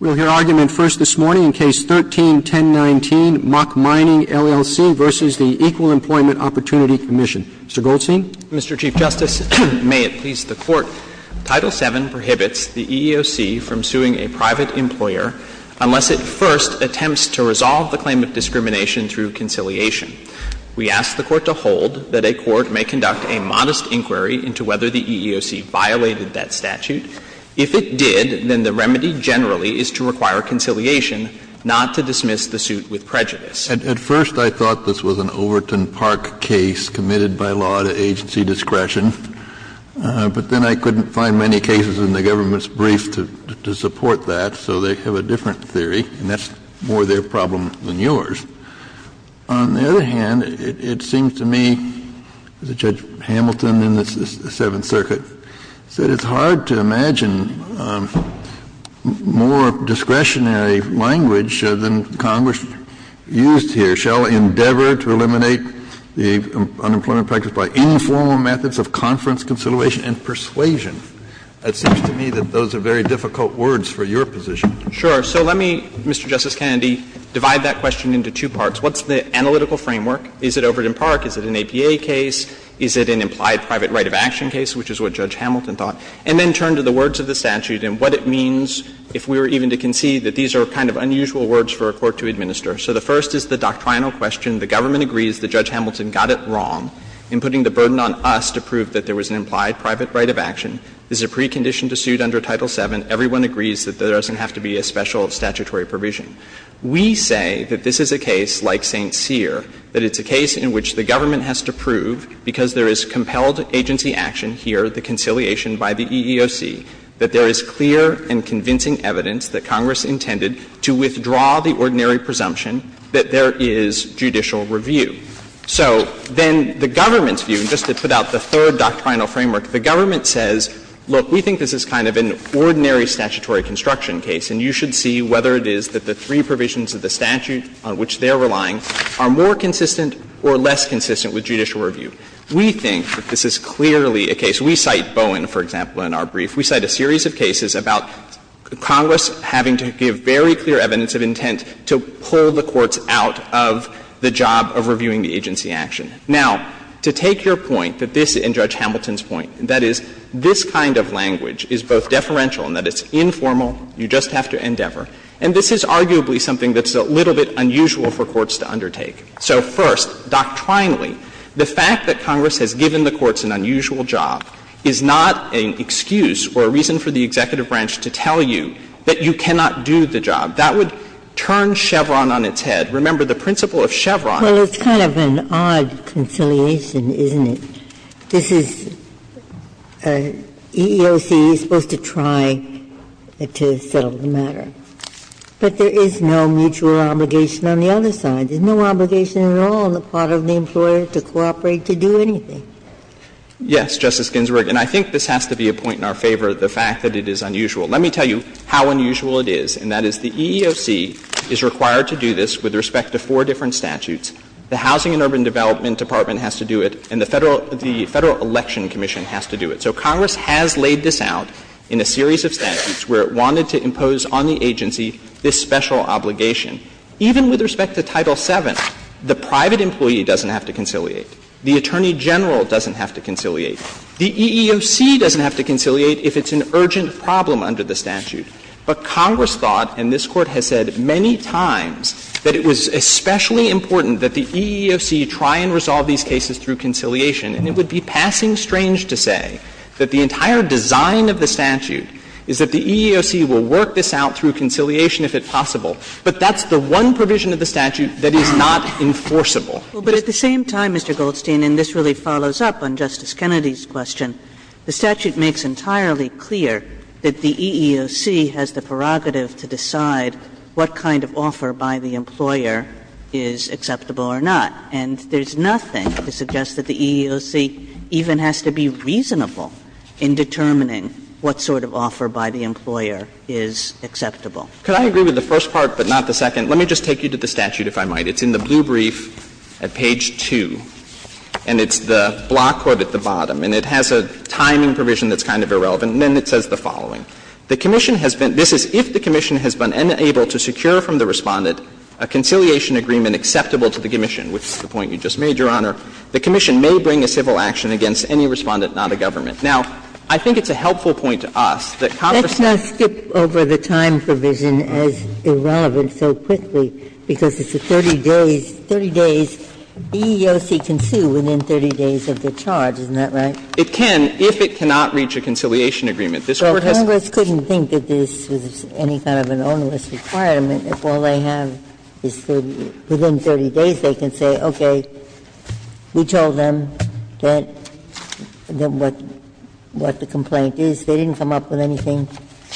We'll hear argument first this morning in Case 13-1019, Mock Mining, LLC v. The Equal Employment Opportunity Commission. Mr. Goldstein. Mr. Chief Justice, may it please the Court, Title VII prohibits the EEOC from suing a private employer unless it first attempts to resolve the claim of discrimination through conciliation. We ask the Court to hold that a court may conduct a modest is to require conciliation, not to dismiss the suit with prejudice. Kennedy. At first I thought this was an Overton Park case committed by law to agency discretion, but then I couldn't find many cases in the government's brief to support that, so they have a different theory, and that's more their problem than yours. On the other hand, it seems to me, as Judge Hamilton in the Seventh Circuit said, it's hard to imagine more discretionary language than Congress used here. Shall endeavor to eliminate the unemployment practice by informal methods of conference conciliation and persuasion. It seems to me that those are very difficult words for your position. Sure. So let me, Mr. Justice Kennedy, divide that question into two parts. What's the analytical framework? Is it Overton Park? Is it an APA case? Is it an implied private right of action case, which is what Judge Hamilton thought? And then turn to the words of the statute and what it means, if we were even to concede, that these are kind of unusual words for a court to administer. So the first is the doctrinal question. The government agrees that Judge Hamilton got it wrong in putting the burden on us to prove that there was an implied private right of action. This is a precondition to suit under Title VII. Everyone agrees that there doesn't have to be a special statutory provision. We say that this is a case like St. Cyr, that it's a case in which the government has to prove, because there is compelled agency action here, the conciliation by the EEOC, that there is clear and convincing evidence that Congress intended to withdraw the ordinary presumption that there is judicial review. So then the government's view, and just to put out the third doctrinal framework, the government says, look, we think this is kind of an ordinary statutory construction case, and you should see whether it is that the three provisions of the statute on which they are relying are more consistent or less consistent with judicial review. We think that this is clearly a case. We cite Bowen, for example, in our brief. We cite a series of cases about Congress having to give very clear evidence of intent to pull the courts out of the job of reviewing the agency action. Now, to take your point that this and Judge Hamilton's point, that is, this kind of language is both deferential in that it's informal, you just have to endeavor. And this is arguably something that's a little bit unusual for courts to undertake. So, first, doctrinally, the fact that Congress has given the courts an unusual job is not an excuse or a reason for the executive branch to tell you that you cannot do the job. That would turn Chevron on its head. Remember, the principle of Chevron. Ginsburg. Well, it's kind of an odd conciliation, isn't it? This is EEOC is supposed to try to settle the matter. But there is no mutual obligation on the other side. There's no obligation at all on the part of the employer to cooperate to do anything. Yes, Justice Ginsburg. And I think this has to be a point in our favor, the fact that it is unusual. Let me tell you how unusual it is, and that is the EEOC is required to do this with respect to four different statutes. The Housing and Urban Development Department has to do it, and the Federal Election Commission has to do it. So Congress has laid this out in a series of statutes where it wanted to impose on the agency this special obligation. Even with respect to Title VII, the private employee doesn't have to conciliate. The attorney general doesn't have to conciliate. The EEOC doesn't have to conciliate if it's an urgent problem under the statute. But Congress thought, and this Court has said many times, that it was especially important that the EEOC try and resolve these cases through conciliation. And it would be passing strange to say that the entire design of the statute is that the EEOC will work this out through conciliation if it's possible. But that's the one provision of the statute that is not enforceable. But at the same time, Mr. Goldstein, and this really follows up on Justice Kennedy's question, the statute makes entirely clear that the EEOC has the prerogative to decide what kind of offer by the employer is acceptable or not. And there's nothing to suggest that the EEOC even has to be reasonable in determining what sort of offer by the employer is acceptable. Goldstein, Could I agree with the first part but not the second? Let me just take you to the statute, if I might. It's in the blue brief at page 2, and it's the block code at the bottom. And it has a timing provision that's kind of irrelevant, and then it says the following. The commission has been – this is if the commission has been able to secure from the Respondent a conciliation agreement acceptable to the commission, which is the point you just made, Your Honor. The commission may bring a civil action against any Respondent, not a government. Now, I think it's a helpful point to us that Congress has to be able to do that. Ginsburg, Let's not skip over the time provision as irrelevant so quickly, because it's a 30 days – 30 days the EEOC can sue within 30 days of the charge. Isn't that right? Goldstein, It can if it cannot reach a conciliation agreement. This Court has – Ginsburg, So Congress couldn't think that this was any kind of an onerous requirement if all they have is 30 – within 30 days they can say, okay, we told them that – what the complaint is. They didn't come up with anything,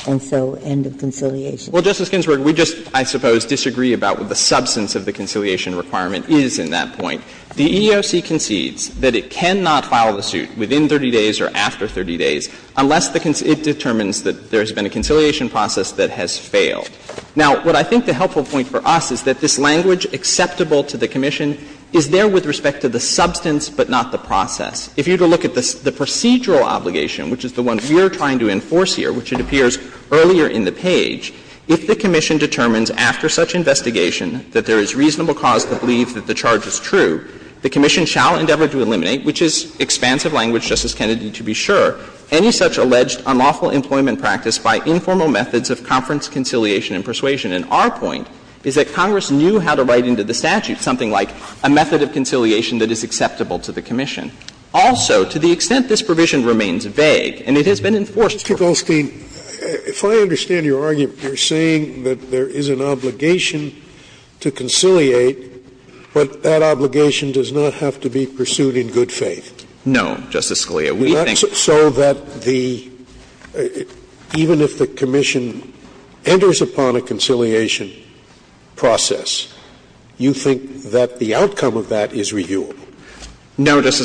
and so end of conciliation. Goldstein, Well, Justice Ginsburg, we just, I suppose, disagree about what the substance of the conciliation requirement is in that point. The EEOC concedes that it cannot file the suit within 30 days or after 30 days unless it determines that there has been a conciliation process that has failed. Now, what I think the helpful point for us is that this language acceptable to the Commission is there with respect to the substance but not the process. If you were to look at the procedural obligation, which is the one we are trying to enforce here, which it appears earlier in the page, if the Commission determines after such investigation that there is reasonable cause to believe that the charge is true, the Commission shall endeavor to eliminate, which is expansive language, Justice Kennedy, to be sure, any such alleged unlawful employment practice by informal methods of conference conciliation and persuasion. And our point is that Congress knew how to write into the statute something like a method of conciliation that is acceptable to the Commission. Also, to the extent this provision remains vague, and it has been enforced for us Scalia, Mr. Goldstein, if I understand your argument, you're saying that there is an obligation to conciliate, but that obligation does not have to be pursued in good faith. No, Justice Scalia. We think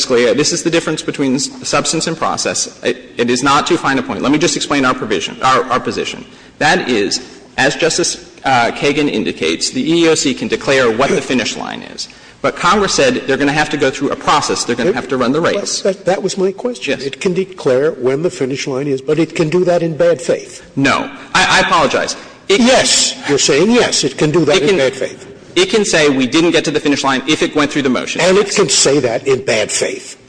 Scalia, this is the difference between substance and process. It is not to find a point. Let me just explain our provision, our position. That is, as Justice Kagan indicates, the EEOC can declare what the finish line is. But Congress said they're going to have to go through a process. They're going to have to run the race. That was my question. Yes. It can declare when the finish line is, but it can do that in bad faith. No. I apologize. Yes. You're saying yes, it can do that in bad faith. It can say we didn't get to the finish line if it went through the motion. And it can say that in bad faith.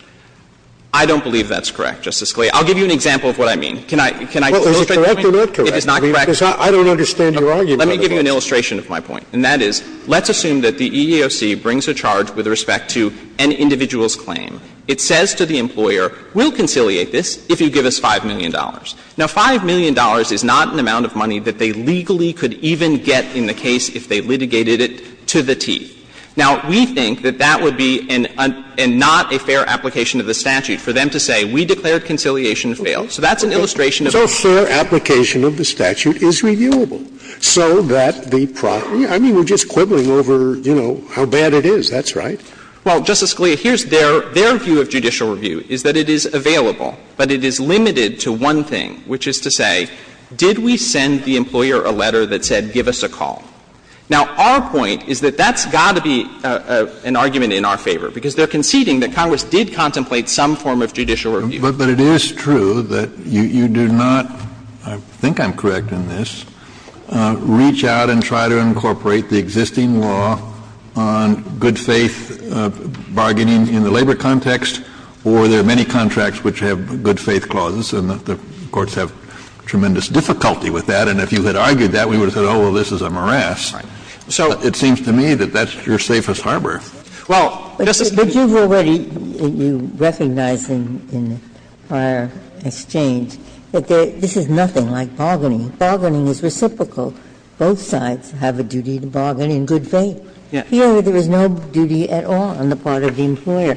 I don't believe that's correct, Justice Scalia. I'll give you an example of what I mean. Can I illustrate the point? Well, is it correct or not correct? It is not correct. I don't understand your argument. Let me give you an illustration of my point. And that is, let's assume that the EEOC brings a charge with respect to an individual's claim. It says to the employer, we'll conciliate this if you give us $5 million. Now, $5 million is not an amount of money that they legally could even get in the case if they litigated it to the teeth. Now, we think that that would be a not a fair application of the statute for them to say, we declared conciliation failed. So that's an illustration of the issue. I mean, we're just quibbling over, you know, how bad it is. That's right. Well, Justice Scalia, here's their view of judicial review, is that it is available, but it is limited to one thing, which is to say, did we send the employer a letter that said, give us a call? Now, our point is that that's got to be an argument in our favor, because they're conceding that Congress did contemplate some form of judicial review. But it is true that you do not, I think I'm correct in this, reach out and try to incorporate the existing law on good-faith bargaining in the labor context, or there are many contracts which have good-faith clauses, and the courts have tremendous difficulty with that. And if you had argued that, we would have said, oh, well, this is a morass. So it seems to me that that's your safest harbor. Well, Justice Ginsburg. But you've already recognized in prior exchange that this is nothing like bargaining. Bargaining is reciprocal. Both sides have a duty to bargain in good faith. Here, there is no duty at all on the part of the employer.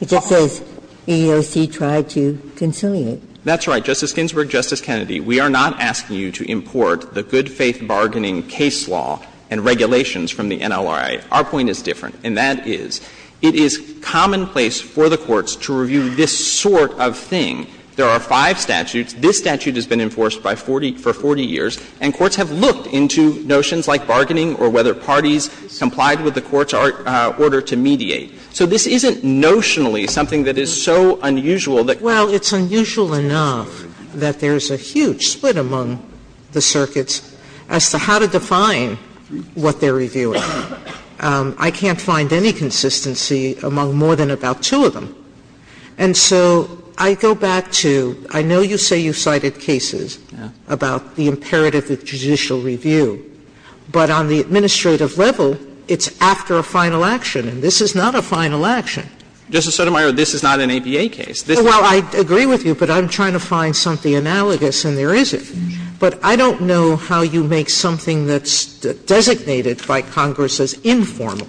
It just says EEOC tried to conciliate. That's right. Justice Ginsburg, Justice Kennedy, we are not asking you to import the good-faith bargaining case law and regulations from the NLRA. Our point is different, and that is, it is commonplace for the courts to review this sort of thing. There are five statutes. This statute has been enforced by 40 for 40 years, and courts have looked into notions like bargaining or whether parties complied with the court's order to mediate. So this isn't notionally something that is so unusual that. Well, it's unusual enough that there's a huge split among the circuits as to how to define what they're reviewing. I can't find any consistency among more than about two of them. And so I go back to, I know you say you cited cases about the imperative of judicial review, but on the administrative level, it's after a final action, and this is not a final action. Justice Sotomayor, this is not an ABA case. Well, I agree with you, but I'm trying to find something analogous, and there isn't. But I don't know how you make something that's designated by Congress as informal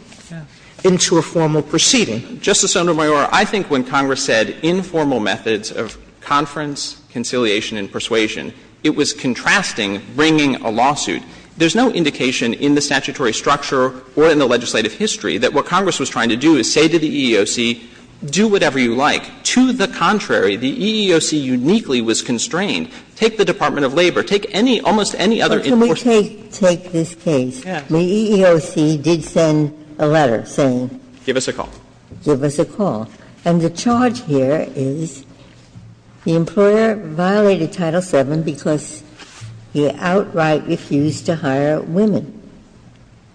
into a formal proceeding. Justice Sotomayor, I think when Congress said informal methods of conference, conciliation, and persuasion, it was contrasting bringing a lawsuit. There's no indication in the statutory structure or in the legislative history that what Congress was trying to do is say to the EEOC, do whatever you like. To the contrary, the EEOC uniquely was constrained. Take the Department of Labor. Take any, almost any other enforcement. Ginsburg. But can we take this case? The EEOC did send a letter saying. Give us a call. Give us a call. And the charge here is the employer violated Title VII because he outright refused to hire women.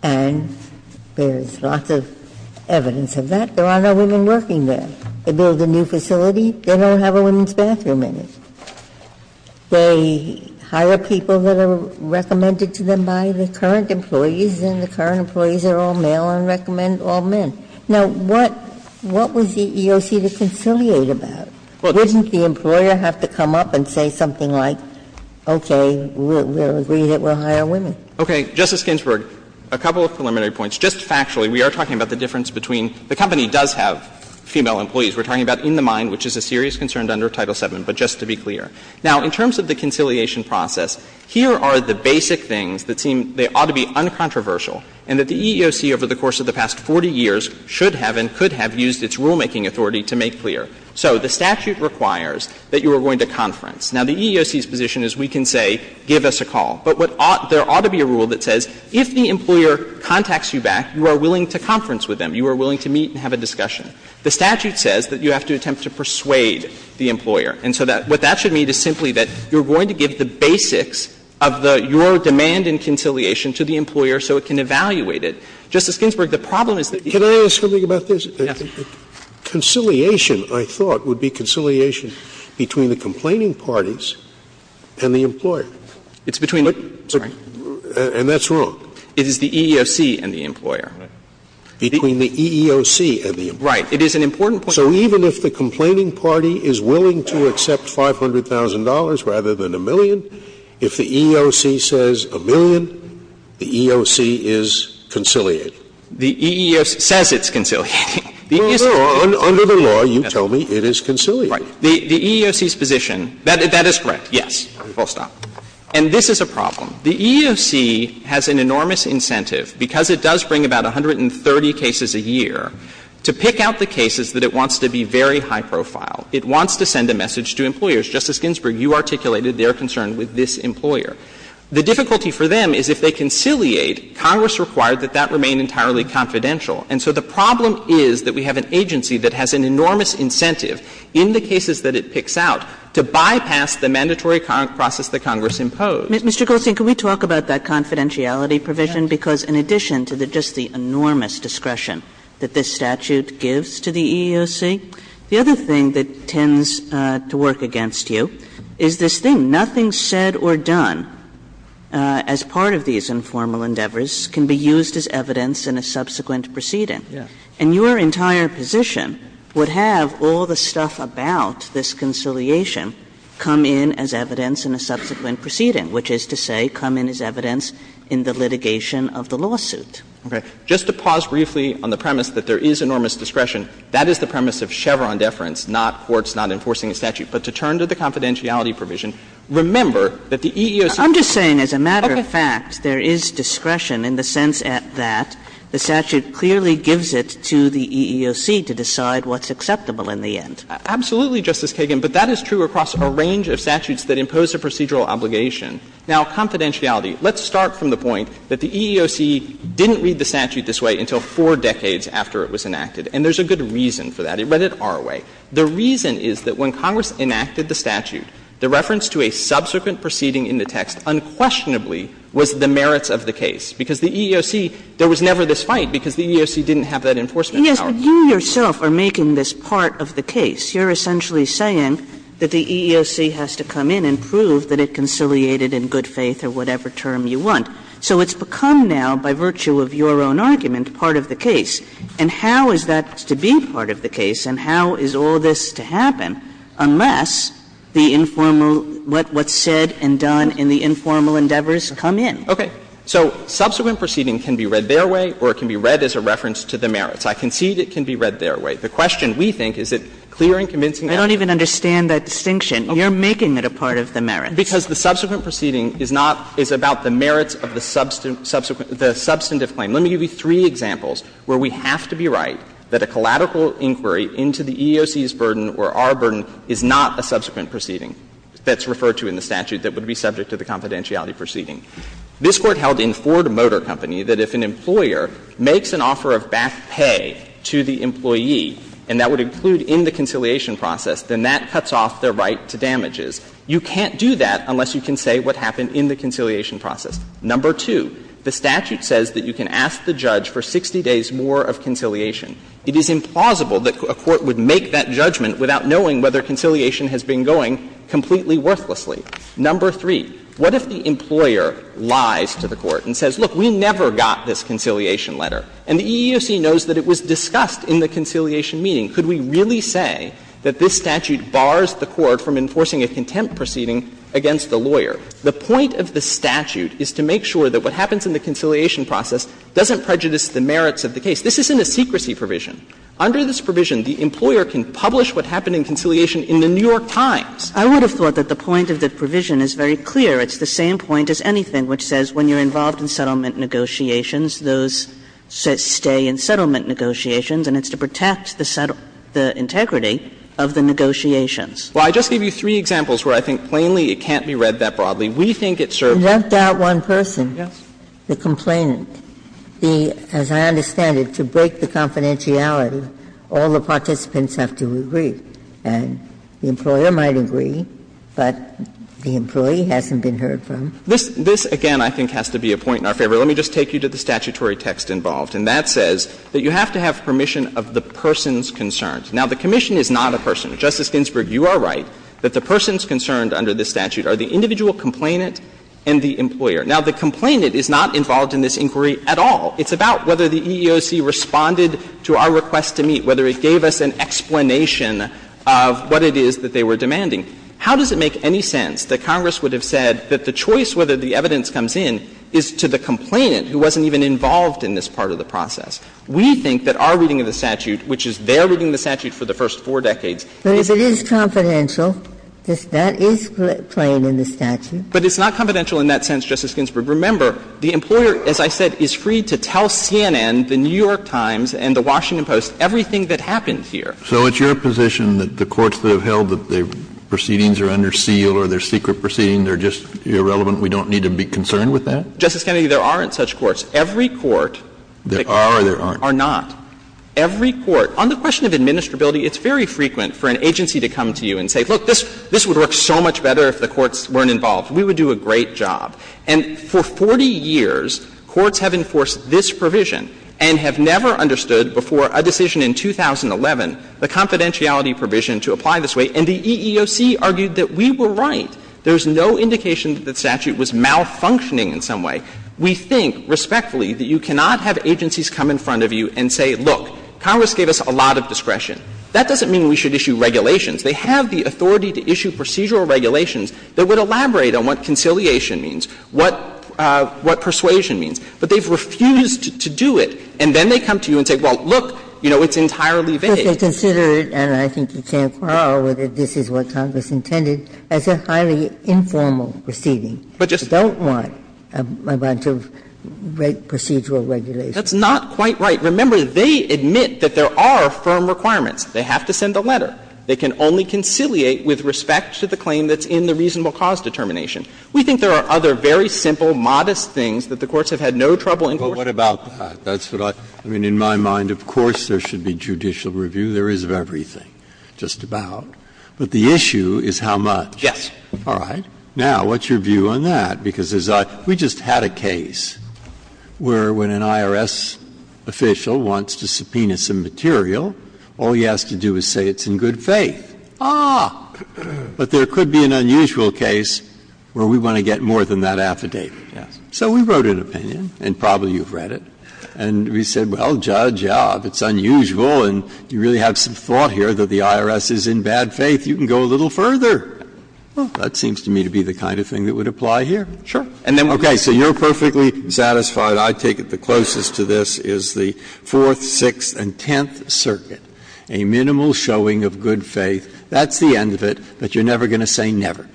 And there's lots of evidence of that. There are no women working there. They build a new facility. They don't have a women's bathroom in it. They hire people that are recommended to them by the current employees, and the current employees are all male and recommend all men. Now, what was the EEOC to conciliate about? Wouldn't the employer have to come up and say something like, okay, we'll agree that we'll hire women? Okay. Justice Ginsburg, a couple of preliminary points. Just factually, we are talking about the difference between the company does have female employees. We're talking about in the mine, which is a serious concern under Title VII, but just to be clear. Now, in terms of the conciliation process, here are the basic things that seem they ought to be uncontroversial, and that the EEOC over the course of the past 40 years should have and could have used its rulemaking authority to make clear. So the statute requires that you are going to conference. Now, the EEOC's position is we can say, give us a call. But what ought — there ought to be a rule that says if the employer contacts you back, you are willing to conference with them. You are willing to meet and have a discussion. The statute says that you have to attempt to persuade the employer. And so that — what that should mean is simply that you're going to give the basics of the — your demand in conciliation to the employer so it can evaluate it. Justice Ginsburg, the problem is that the — Scalia, can I ask something about this? Yes. Conciliation, I thought, would be conciliation between the complaining parties and the employer. It's between — And that's wrong. It is the EEOC and the employer. Between the EEOC and the employer. Right. It is an important point. So even if the complaining party is willing to accept $500,000 rather than a million, if the EEOC says a million, the EEOC is conciliating. The EEOC says it's conciliating. Under the law, you tell me it is conciliating. Right. The EEOC's position — that is correct, yes. Full stop. And this is a problem. The EEOC has an enormous incentive, because it does bring about 130 cases a year, to pick out the cases that it wants to be very high profile. It wants to send a message to employers. Justice Ginsburg, you articulated their concern with this employer. The difficulty for them is if they conciliate, Congress required that that remain entirely confidential. And so the problem is that we have an agency that has an enormous incentive in the cases that it picks out to bypass the mandatory process that Congress imposed. Mr. Goldstein, can we talk about that confidentiality provision? Because in addition to just the enormous discretion that this statute gives to the is this thing, nothing said or done as part of these informal endeavors can be used as evidence in a subsequent proceeding. And your entire position would have all the stuff about this conciliation come in as evidence in a subsequent proceeding, which is to say come in as evidence in the litigation of the lawsuit. Okay. Just to pause briefly on the premise that there is enormous discretion, that is the premise of Chevron deference, not courts not enforcing a statute. But to turn to the confidentiality provision, remember that the EEOC. I'm just saying as a matter of fact, there is discretion in the sense that the statute clearly gives it to the EEOC to decide what's acceptable in the end. Absolutely, Justice Kagan, but that is true across a range of statutes that impose a procedural obligation. Now, confidentiality. Let's start from the point that the EEOC didn't read the statute this way until four decades after it was enacted. And there's a good reason for that. It read it our way. The reason is that when Congress enacted the statute, the reference to a subsequent proceeding in the text unquestionably was the merits of the case. Because the EEOC, there was never this fight because the EEOC didn't have that enforcement power. Kagan. But you yourself are making this part of the case. You're essentially saying that the EEOC has to come in and prove that it conciliated in good faith or whatever term you want. So it's become now, by virtue of your own argument, part of the case. And how is that to be part of the case? And how is all this to happen unless the informal, what's said and done in the informal endeavors come in? Okay. So subsequent proceeding can be read their way or it can be read as a reference to the merits. I concede it can be read their way. The question, we think, is it clear and convincing? I don't even understand that distinction. You're making it a part of the merits. Because the subsequent proceeding is not, is about the merits of the subsequent the substantive claim. Let me give you three examples where we have to be right that a collateral inquiry into the EEOC's burden or our burden is not a subsequent proceeding that's referred to in the statute that would be subject to the confidentiality proceeding. This Court held in Ford Motor Company that if an employer makes an offer of back pay to the employee, and that would include in the conciliation process, then that cuts off their right to damages. You can't do that unless you can say what happened in the conciliation process. Number two, the statute says that you can ask the judge for 60 days more of conciliation. It is implausible that a court would make that judgment without knowing whether conciliation has been going completely worthlessly. Number three, what if the employer lies to the court and says, look, we never got this conciliation letter, and the EEOC knows that it was discussed in the conciliation meeting. Could we really say that this statute bars the court from enforcing a contempt proceeding against the lawyer? The point of the statute is to make sure that what happens in the conciliation process doesn't prejudice the merits of the case. This isn't a secrecy provision. Under this provision, the employer can publish what happened in conciliation in the New York Times. Kagan. I would have thought that the point of the provision is very clear. It's the same point as anything which says when you're involved in settlement negotiations, those stay in settlement negotiations, and it's to protect the integrity of the negotiations. Well, I just gave you three examples where I think plainly it can't be read that broadly. We think it serves. You left out one person, the complainant. As I understand it, to break the confidentiality, all the participants have to agree. And the employer might agree, but the employee hasn't been heard from. This, again, I think has to be a point in our favor. Let me just take you to the statutory text involved. And that says that you have to have permission of the person's concerns. Now, the commission is not a person. Justice Ginsburg, you are right that the person's concerns under this statute are the individual complainant and the employer. Now, the complainant is not involved in this inquiry at all. It's about whether the EEOC responded to our request to meet, whether it gave us an explanation of what it is that they were demanding. How does it make any sense that Congress would have said that the choice whether the evidence comes in is to the complainant, who wasn't even involved in this part of the process? We think that our reading of the statute, which is their reading of the statute for the first four decades, is a good one. But it's not confidential in that sense, Justice Ginsburg. Remember, the employer, as I said, is free to tell CNN, the New York Times, and the Washington Post, everything that happened here. Kennedy, there aren't such courts. Every court are not. Every court. On the question of administrability, it's very frequent for an agency to come to you and say, look, this would work so much better if the courts weren't involved. We would do a great job. And for 40 years, courts have enforced this provision and have never understood before a decision in 2011, the confidentiality provision to apply this way, and the EEOC argued that we were right. There's no indication that the statute was malfunctioning in some way. We think, respectfully, that you cannot have agencies come in front of you and say, look, Congress gave us a lot of discretion. That doesn't mean we should issue regulations. They have the authority to issue procedural regulations that would elaborate on what conciliation means, what persuasion means. But they've refused to do it. And then they come to you and say, well, look, you know, it's entirely vague. Ginsburg, they consider it, and I think you can't quarrel with it, this is what Congress intended, as a highly informal proceeding. They don't want a bunch of procedural regulations. That's not quite right. Remember, they admit that there are firm requirements. They have to send a letter. They can only conciliate with respect to the claim that's in the reasonable cause determination. We think there are other very simple, modest things that the courts have had no trouble in court. Breyer. But what about that? That's what I mean. In my mind, of course, there should be judicial review. There is of everything, just about. But the issue is how much. Yes. All right. Now, what's your view on that? Because as I we just had a case where when an IRS official wants to subpoena some material, all he has to do is say it's in good faith. Ah. But there could be an unusual case where we want to get more than that affidavit. Yes. So we wrote an opinion, and probably you've read it, and we said, well, Judge, yeah, if it's unusual and you really have some thought here that the IRS is in bad faith, you can go a little further. Well, that seems to me to be the kind of thing that would apply here. Sure. And then we would say, okay, so you're perfectly satisfied. But I take it the closest to this is the Fourth, Sixth, and Tenth Circuit, a minimal showing of good faith. That's the end of it. But you're never going to say never.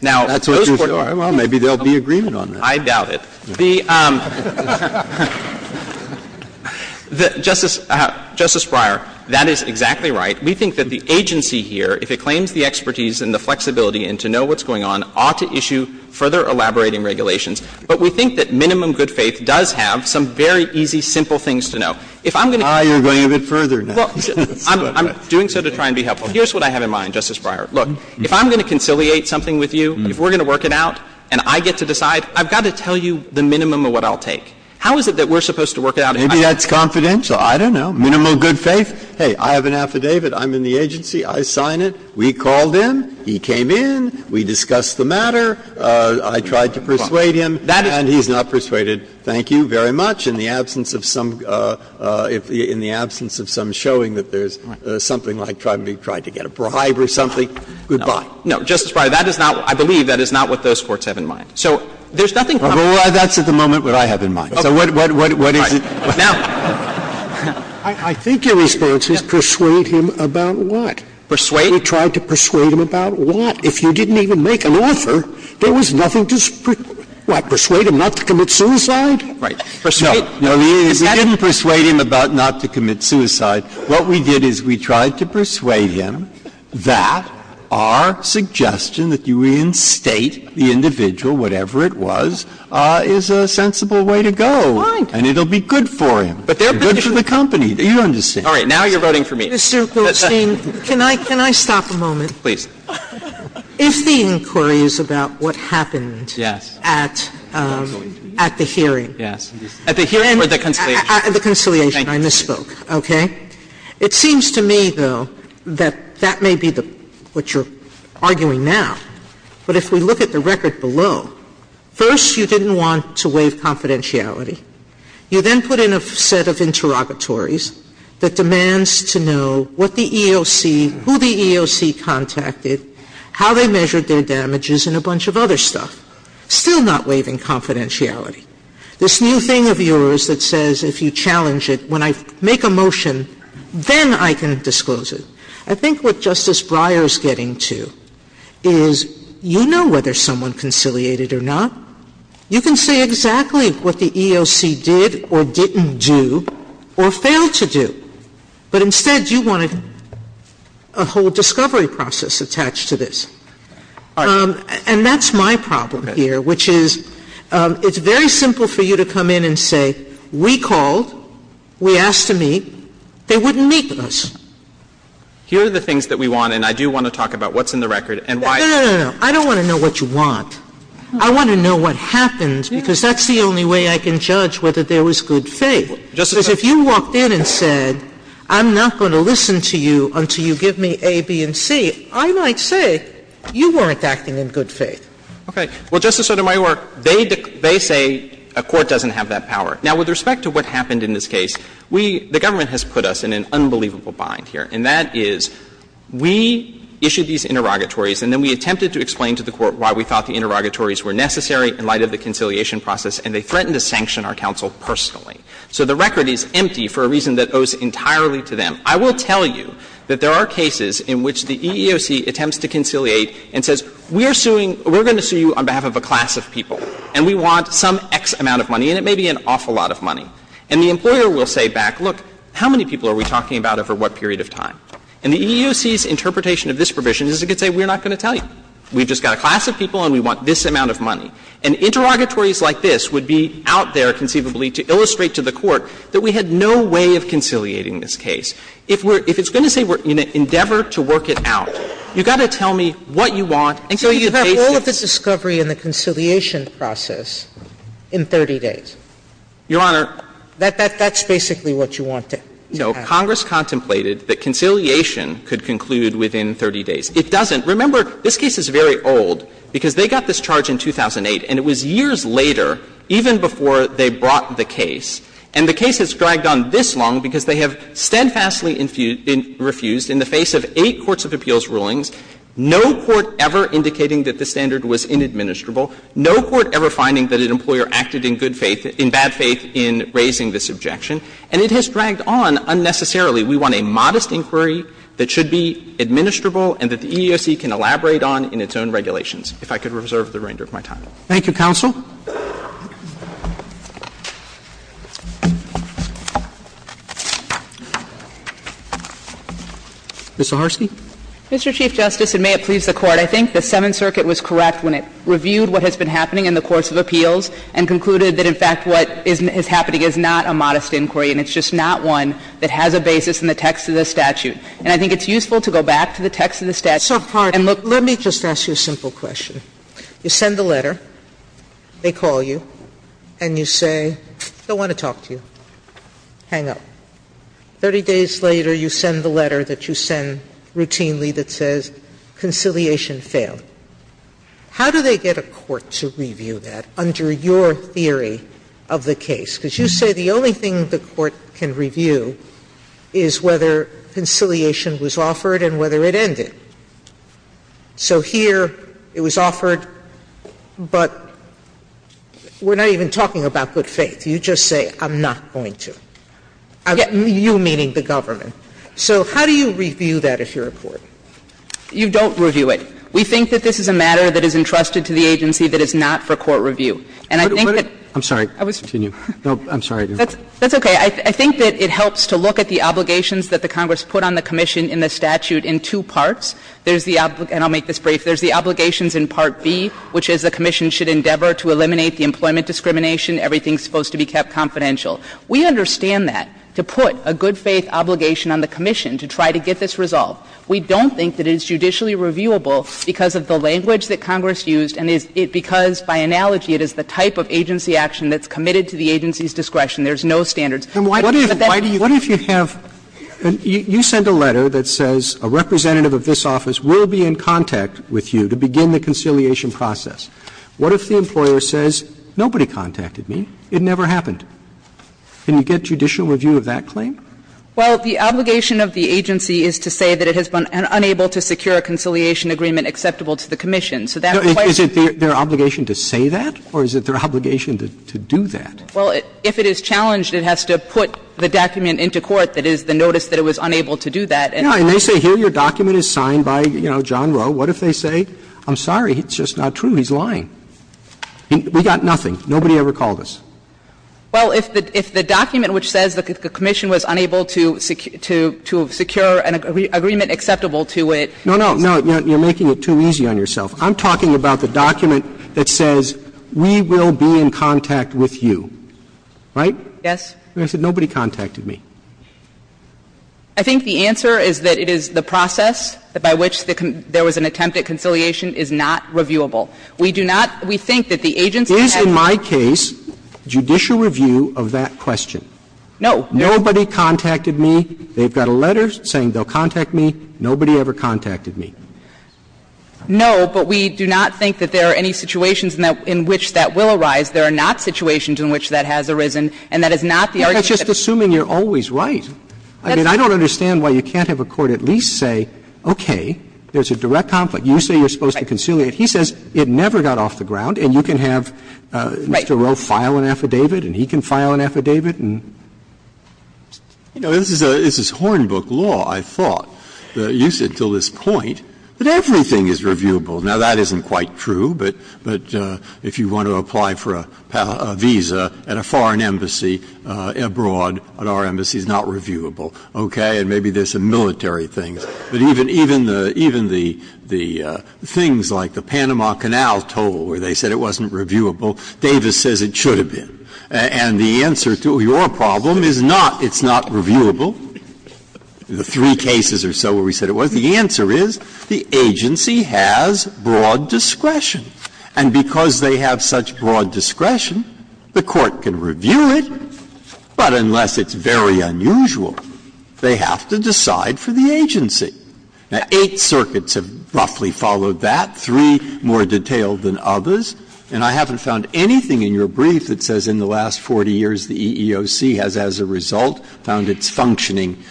Now, those court cases don't help. Well, maybe there will be agreement on that. I doubt it. The Justice Breyer, that is exactly right. We think that the agency here, if it claims the expertise and the flexibility and to know what's going on, ought to issue further elaborating regulations. But we think that minimum good faith does have some very easy, simple things to know. If I'm going to go further now, I'm doing so to try and be helpful. Here's what I have in mind, Justice Breyer. Look, if I'm going to conciliate something with you, if we're going to work it out and I get to decide, I've got to tell you the minimum of what I'll take. How is it that we're supposed to work it out? Maybe that's confidential. I don't know. Minimum good faith, hey, I have an affidavit, I'm in the agency, I sign it, we called him, he came in, we discussed the matter, I tried to persuade him, and he's not persuaded. Thank you very much. In the absence of some showing that there's something like trying to get a bribe or something, goodbye. No, Justice Breyer, that is not, I believe, that is not what those courts have in mind. So there's nothing confidential. Well, that's at the moment what I have in mind. So what is it? Now, I think your response is persuade him about what? Persuade? You tried to persuade him about what? If you didn't even make an offer, there was nothing to, what, persuade him not to commit suicide? Right. Persuade? No, we didn't persuade him about not to commit suicide. What we did is we tried to persuade him that our suggestion that you reinstate the individual, whatever it was, is a sensible way to go. Fine. And it will be good for him. But they're going to be good for the company. You understand. All right. Now you're voting for me. Mr. Goldstein, can I stop a moment? Please. If the inquiry is about what happened at the hearing. Yes. At the hearing or the conciliation? At the conciliation. I misspoke. Okay. It seems to me, though, that that may be what you're arguing now. But if we look at the record below, first you didn't want to waive confidentiality. You then put in a set of interrogatories that demands to know what the EEOC, who the EEOC contacted, how they measured their damages, and a bunch of other stuff. Still not waiving confidentiality. This new thing of yours that says if you challenge it, when I make a motion, then I can disclose it. I think what Justice Breyer is getting to is you know whether someone conciliated or not. You can say exactly what the EEOC did or didn't do or failed to do. But instead you want a whole discovery process attached to this. And that's my problem here, which is it's very simple for you to come in and say we called, we asked to meet, they wouldn't meet with us. Here are the things that we want, and I do want to talk about what's in the record and why. No, no, no, no. I don't want to know what you want. I want to know what happened, because that's the only way I can judge whether there was good faith. Because if you walked in and said, I'm not going to listen to you until you give me A, B, and C, I might say you weren't acting in good faith. Okay. Well, Justice Sotomayor, they say a court doesn't have that power. Now, with respect to what happened in this case, we, the government has put us in an unbelievable bind here, and that is we issued these interrogatories and then we attempted to explain to the Court why we thought the interrogatories were necessary in light of the conciliation process, and they threatened to sanction our counsel personally. So the record is empty for a reason that owes entirely to them. I will tell you that there are cases in which the EEOC attempts to conciliate and says, we are suing, we're going to sue you on behalf of a class of people, and we want some X amount of money, and it may be an awful lot of money. And the employer will say back, look, how many people are we talking about over what period of time? And the EEOC's interpretation of this provision is it could say, we're not going to tell you. We've just got a class of people and we want this amount of money. And interrogatories like this would be out there conceivably to illustrate to the Court that we had no way of conciliating this case. If it's going to say we're in an endeavor to work it out, you've got to tell me what you want and show you the pace of it. Sotomayor So you have all of this discovery in the conciliation process in 30 days? Clement Your Honor. Sotomayor That's basically what you want to have. Clement Your Honor, it doesn't say that Congress contemplated that conciliation could conclude within 30 days. It doesn't. Remember, this case is very old because they got this charge in 2008, and it was years later, even before they brought the case. And the case has dragged on this long because they have steadfastly refused in the face of eight courts of appeals rulings, no court ever indicating that the standard was inadministrable, no court ever finding that an employer acted in good faith, in bad faith, in raising this objection. And it has dragged on unnecessarily. We want a modest inquiry that should be administrable and that the EEOC can elaborate on in its own regulations, if I could reserve the reinder of my time. Roberts Thank you, counsel. Ms. Zaharsky. Zaharsky Mr. Chief Justice, and may it please the Court, I think the Seventh Circuit was correct when it reviewed what has been happening in the courts of appeals and concluded that, in fact, what is happening is not a modest inquiry, and it's just not one that has a basis in the text of the statute. And I think it's useful to go back to the text of the statute. Sotomayor So, pardon me. Let me just ask you a simple question. You send the letter, they call you, and you say, I don't want to talk to you. Hang up. Thirty days later, you send the letter that you send routinely that says, conciliation failed. How do they get a court to review that under your theory of the case? Because you say the only thing the court can review is whether conciliation was offered and whether it ended. So here it was offered, but we're not even talking about good faith. You just say, I'm not going to. You meaning the government. So how do you review that if you're a court? Zaharsky You don't review it. We think that this is a matter that is entrusted to the agency that is not for court review. And I think that the Court I'm sorry, continue. No, I'm sorry. Zaharsky That's okay. I think that it helps to look at the obligations that the Congress put on the commission in the statute in two parts. There's the obligation, and I'll make this brief, there's the obligations in Part B, which is the commission should endeavor to eliminate the employment discrimination. Everything is supposed to be kept confidential. We understand that. To put a good faith obligation on the commission to try to get this resolved, we don't think that it is judicially reviewable because of the language that Congress used and because, by analogy, it is the type of agency action that's committed to the agency's discretion. There's no standards. Roberts What if you have you send a letter that says a representative of this office will be in contact with you to begin the conciliation process. What if the employer says, nobody contacted me, it never happened? Can you get judicial review of that claim? Saharsky Well, the obligation of the agency is to say that it has been unable to secure a conciliation agreement acceptable to the commission. So that's why it's a question of whether the agency has the obligation to do that. Well, if it is challenged, it has to put the document into court that is the notice that it was unable to do that. Roberts And they say, here, your document is signed by, you know, John Rowe. What if they say, I'm sorry, it's just not true, he's lying. We got nothing. Nobody ever called us. Saharsky Well, if the document which says the commission was unable to secure an agreement acceptable to it. Roberts No, no, you're making it too easy on yourself. I'm talking about the document that says, we will be in contact with you, right? Saharsky Yes. Roberts And I said, nobody contacted me. Saharsky I think the answer is that it is the process by which there was an attempt at conciliation is not reviewable. We do not, we think that the agency has to do that. Roberts And in my case, judicial review of that question. Saharsky No. Roberts Nobody contacted me. They've got a letter saying they'll contact me. Nobody ever contacted me. Saharsky No, but we do not think that there are any situations in which that will arise. There are not situations in which that has arisen, and that is not the argument that's used. Roberts Well, that's just assuming you're always right. I mean, I don't understand why you can't have a court at least say, okay, there's a direct conflict. You say you're supposed to conciliate. Saharsky Right. Roberts He says it never got off the ground, and you can have. Saharsky Right. Roberts And you have to file an affidavit, and he can file an affidavit, and. Breyer You know, this is Hornbook law, I thought. You said until this point that everything is reviewable. Now, that isn't quite true, but if you want to apply for a visa at a foreign embassy abroad, at our embassy, it's not reviewable, okay? And maybe there's some military things. But even the things like the Panama Canal toll, where they said it wasn't reviewable. Davis says it should have been. And the answer to your problem is not it's not reviewable. The three cases or so where we said it was, the answer is the agency has broad discretion. And because they have such broad discretion, the court can review it, but unless it's very unusual, they have to decide for the agency. Eight circuits have roughly followed that, three more detailed than others, and I haven't found anything in your brief that says in the last 40 years the EEOC has, as a result, found its functioning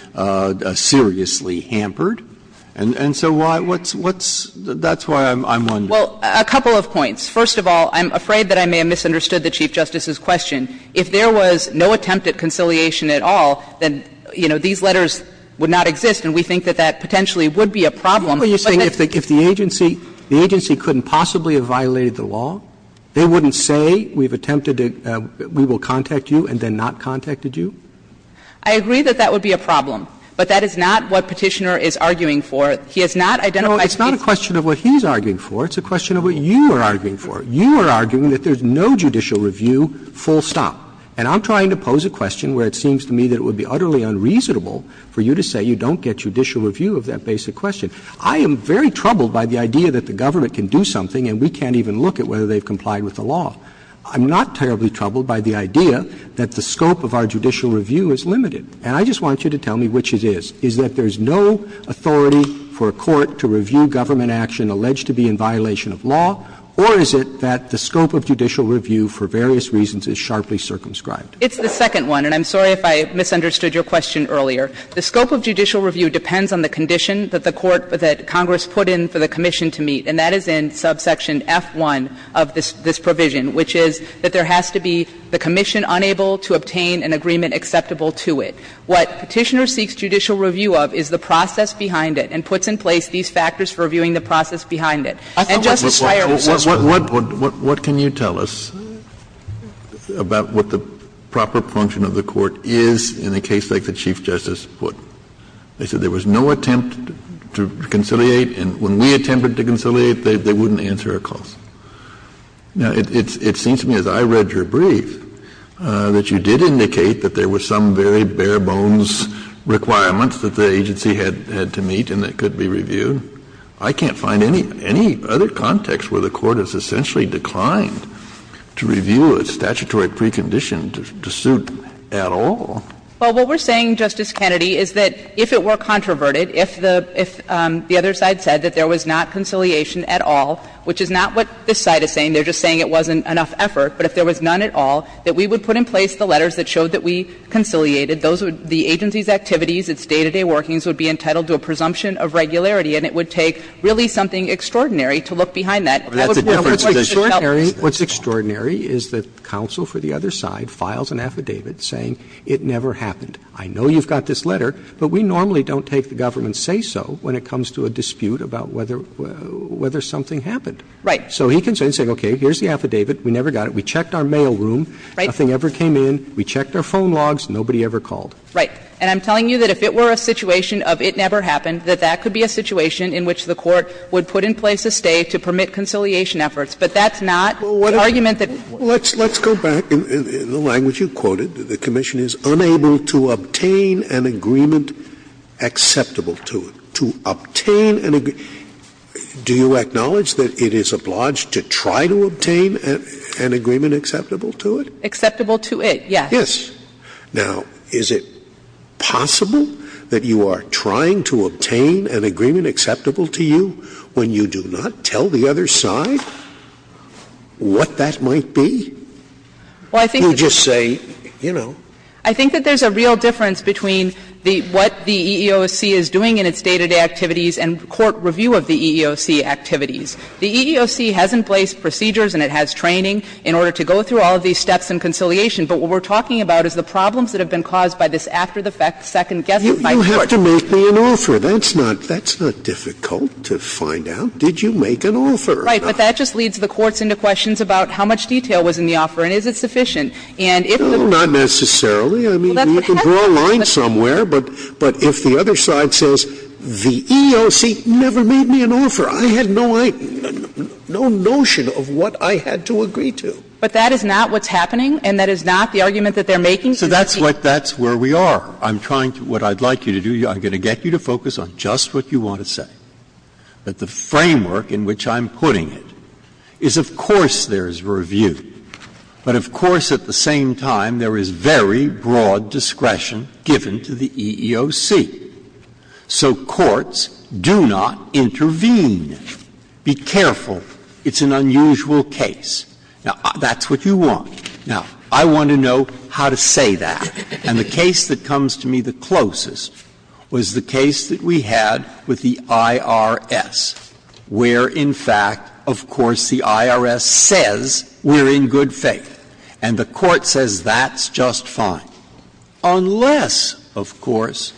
seriously hampered. And so why what's, what's, that's why I'm, I'm wondering. Well, a couple of points. First of all, I'm afraid that I may have misunderstood the Chief Justice's question. If there was no attempt at conciliation at all, then, you know, these letters would not exist, and we think that that potentially would be a problem. Roberts What were you saying, if the, if the agency, the agency couldn't possibly have violated the law? They wouldn't say we've attempted to, we will contact you and then not contacted you? I agree that that would be a problem, but that is not what Petitioner is arguing for. He has not identified the case. No, it's not a question of what he's arguing for. It's a question of what you are arguing for. You are arguing that there's no judicial review full stop. And I'm trying to pose a question where it seems to me that it would be utterly unreasonable for you to say you don't get judicial review of that basic question. I am very troubled by the idea that the government can do something and we can't even look at whether they've complied with the law. I'm not terribly troubled by the idea that the scope of our judicial review is limited. And I just want you to tell me which it is. Is that there's no authority for a court to review government action alleged to be in violation of law, or is it that the scope of judicial review for various reasons is sharply circumscribed? It's the second one, and I'm sorry if I misunderstood your question earlier. The scope of judicial review depends on the condition that the court, that Congress put in for the commission to meet, and that is in subsection F-1 of this provision, which is that there has to be the commission unable to obtain an agreement acceptable to it. What Petitioner seeks judicial review of is the process behind it and puts in place these factors for reviewing the process behind it. And Justice Breyer, what's the point? Kennedy, what can you tell us about what the proper function of the court is in a case like the Chief Justice put? They said there was no attempt to conciliate, and when we attempted to conciliate, they wouldn't answer our calls. Now, it seems to me, as I read your brief, that you did indicate that there was some very bare-bones requirements that the agency had to meet and that could be reviewed. I can't find any other context where the court has essentially declined to review a statutory precondition to suit at all. Well, what we're saying, Justice Kennedy, is that if it were controverted, if the other side said that there was not conciliation at all, which is not what this side is saying, they're just saying it wasn't enough effort, but if there was none at all, that we would put in place the letters that showed that we conciliated. The agency's activities, its day-to-day workings would be entitled to a presumption of regularity, and it would take really something extraordinary to look behind that. Roberts, what's extraordinary is that counsel for the other side files an affidavit saying it never happened. I know you've got this letter, but we normally don't take the government's say-so when it comes to a dispute about whether something happened. Right. So he can say, okay, here's the affidavit, we never got it, we checked our mailroom, nothing ever came in, we checked our phone logs, nobody ever called. Right. And I'm telling you that if it were a situation of it never happened, that that could be a situation in which the court would put in place a stay to permit conciliation efforts. But that's not the argument that it was. Let's go back. In the language you quoted, the commission is unable to obtain an agreement acceptable to it. To obtain an agreement – do you acknowledge that it is obliged to try to obtain an agreement acceptable to it? Acceptable to it, yes. Yes. Now, is it possible that you are trying to obtain an agreement acceptable to you when you do not tell the other side what that might be? Well, I think that there's a real difference between the – what the EEOC is doing in its day-to-day activities and court review of the EEOC activities. The EEOC has in place procedures and it has training in order to go through all of these steps in conciliation. But what we're talking about is the problems that have been caused by this after-the-fact second-guessing. You have to make me an author. That's not – that's not difficult to find out. Did you make an author? Right. But that just leads the courts into questions about how much detail was in the offer and is it sufficient. And if the – Well, not necessarily. I mean, you can draw a line somewhere, but if the other side says the EEOC never made me an author, I had no – no notion of what I had to agree to. But that is not what's happening and that is not the argument that they're making to the Chief. So that's what – that's where we are. I'm trying to – what I'd like you to do, I'm going to get you to focus on just what you want to say. But the framework in which I'm putting it is, of course, there is review, but of course, at the same time, there is very broad discretion given to the EEOC. So courts do not intervene. Be careful. It's an unusual case. Now, that's what you want. Now, I want to know how to say that. And the case that comes to me the closest was the case that we had with the IRS, where in fact, of course, the IRS says we're in good faith and the Court says that's just fine, unless, of course,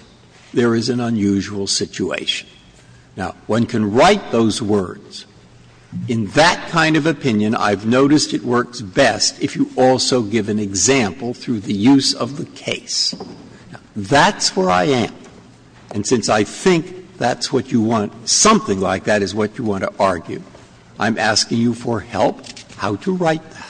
there is an unusual situation. Now, one can write those words. In that kind of opinion, I've noticed it works best if you also give an example through the use of the case. Now, that's where I am. And since I think that's what you want, something like that is what you want to argue. I'm asking you for help how to write that.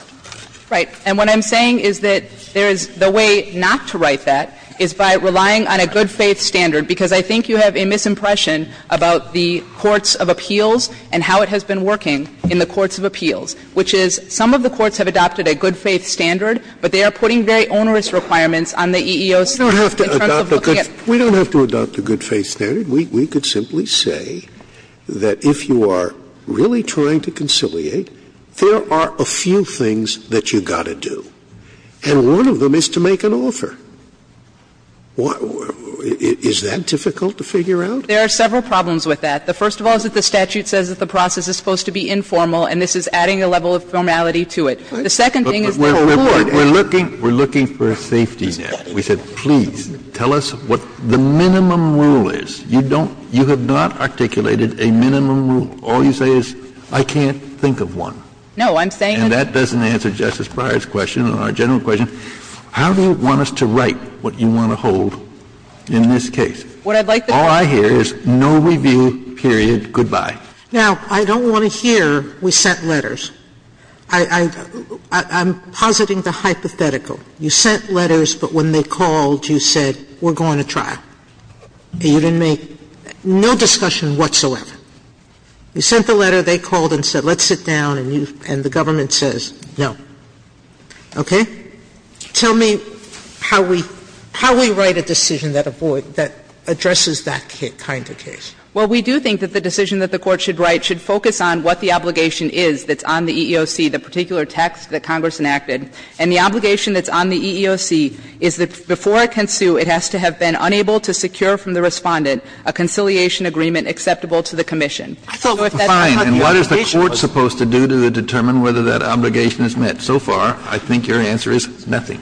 Right. And what I'm saying is that there is the way not to write that is by relying on a good faith standard, because I think you have a misimpression about the courts of appeals and how it has been working in the courts of appeals, which is some of the courts have adopted a good faith standard, but they are putting very onerous requirements on the EEOC in terms of looking at. Scalia We don't have to adopt a good faith standard. We could simply say that if you are really trying to conciliate, there are a few things that you've got to do, and one of them is to make an offer. Is that difficult to figure out? There are several problems with that. The first of all is that the statute says that the process is supposed to be informal, and this is adding a level of formality to it. The second thing is the court. Kennedy We're looking for a safety net. We said, please, tell us what the minimum rule is. You don't — you have not articulated a minimum rule. All you say is, I can't think of one. And that doesn't answer Justice Breyer's question and our general question. How do you want us to write what you want to hold in this case? All I hear is no review, period, goodbye. Sotomayor Now, I don't want to hear, we sent letters. I'm positing the hypothetical. You sent letters, but when they called, you said, we're going to trial. You didn't make no discussion whatsoever. You sent the letter, they called and said, let's sit down, and you — and the government says no. Okay? Tell me how we write a decision that avoid — that addresses that kind of case. Well, we do think that the decision that the Court should write should focus on what the obligation is that's on the EEOC, the particular text that Congress enacted. And the obligation that's on the EEOC is that before it can sue, it has to have been unable to secure from the Respondent a conciliation agreement acceptable to the commission. So if that's not the obligation, it's not the decision. Fine. And what is the Court supposed to do to determine whether that obligation is met? So far, I think your answer is nothing.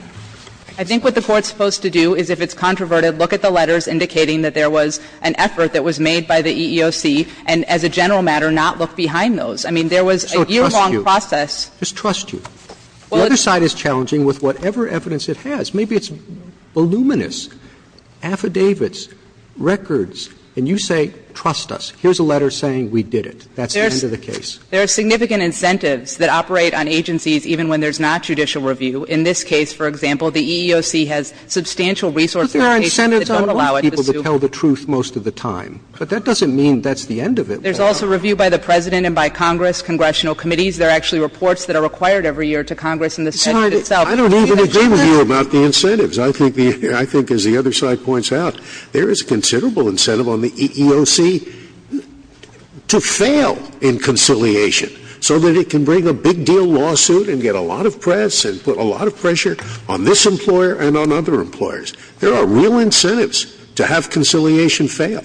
I think what the Court's supposed to do is, if it's controverted, look at the letters I mean, there was a yearlong process. Just trust you. The other side is challenging with whatever evidence it has. Maybe it's voluminous, affidavits, records, and you say trust us, here's a letter saying we did it. That's the end of the case. There are significant incentives that operate on agencies even when there's not judicial review. In this case, for example, the EEOC has substantial resources that don't allow it to sue. But there are incentives on other people to tell the truth most of the time. But that doesn't mean that's the end of it. There's also review by the President and by Congress, congressional committees. There are actually reports that are required every year to Congress and the Senate itself. I don't even agree with you about the incentives. I think the other side points out there is considerable incentive on the EEOC to fail in conciliation so that it can bring a big deal lawsuit and get a lot of press and put a lot of pressure on this employer and on other employers. There are real incentives to have conciliation fail.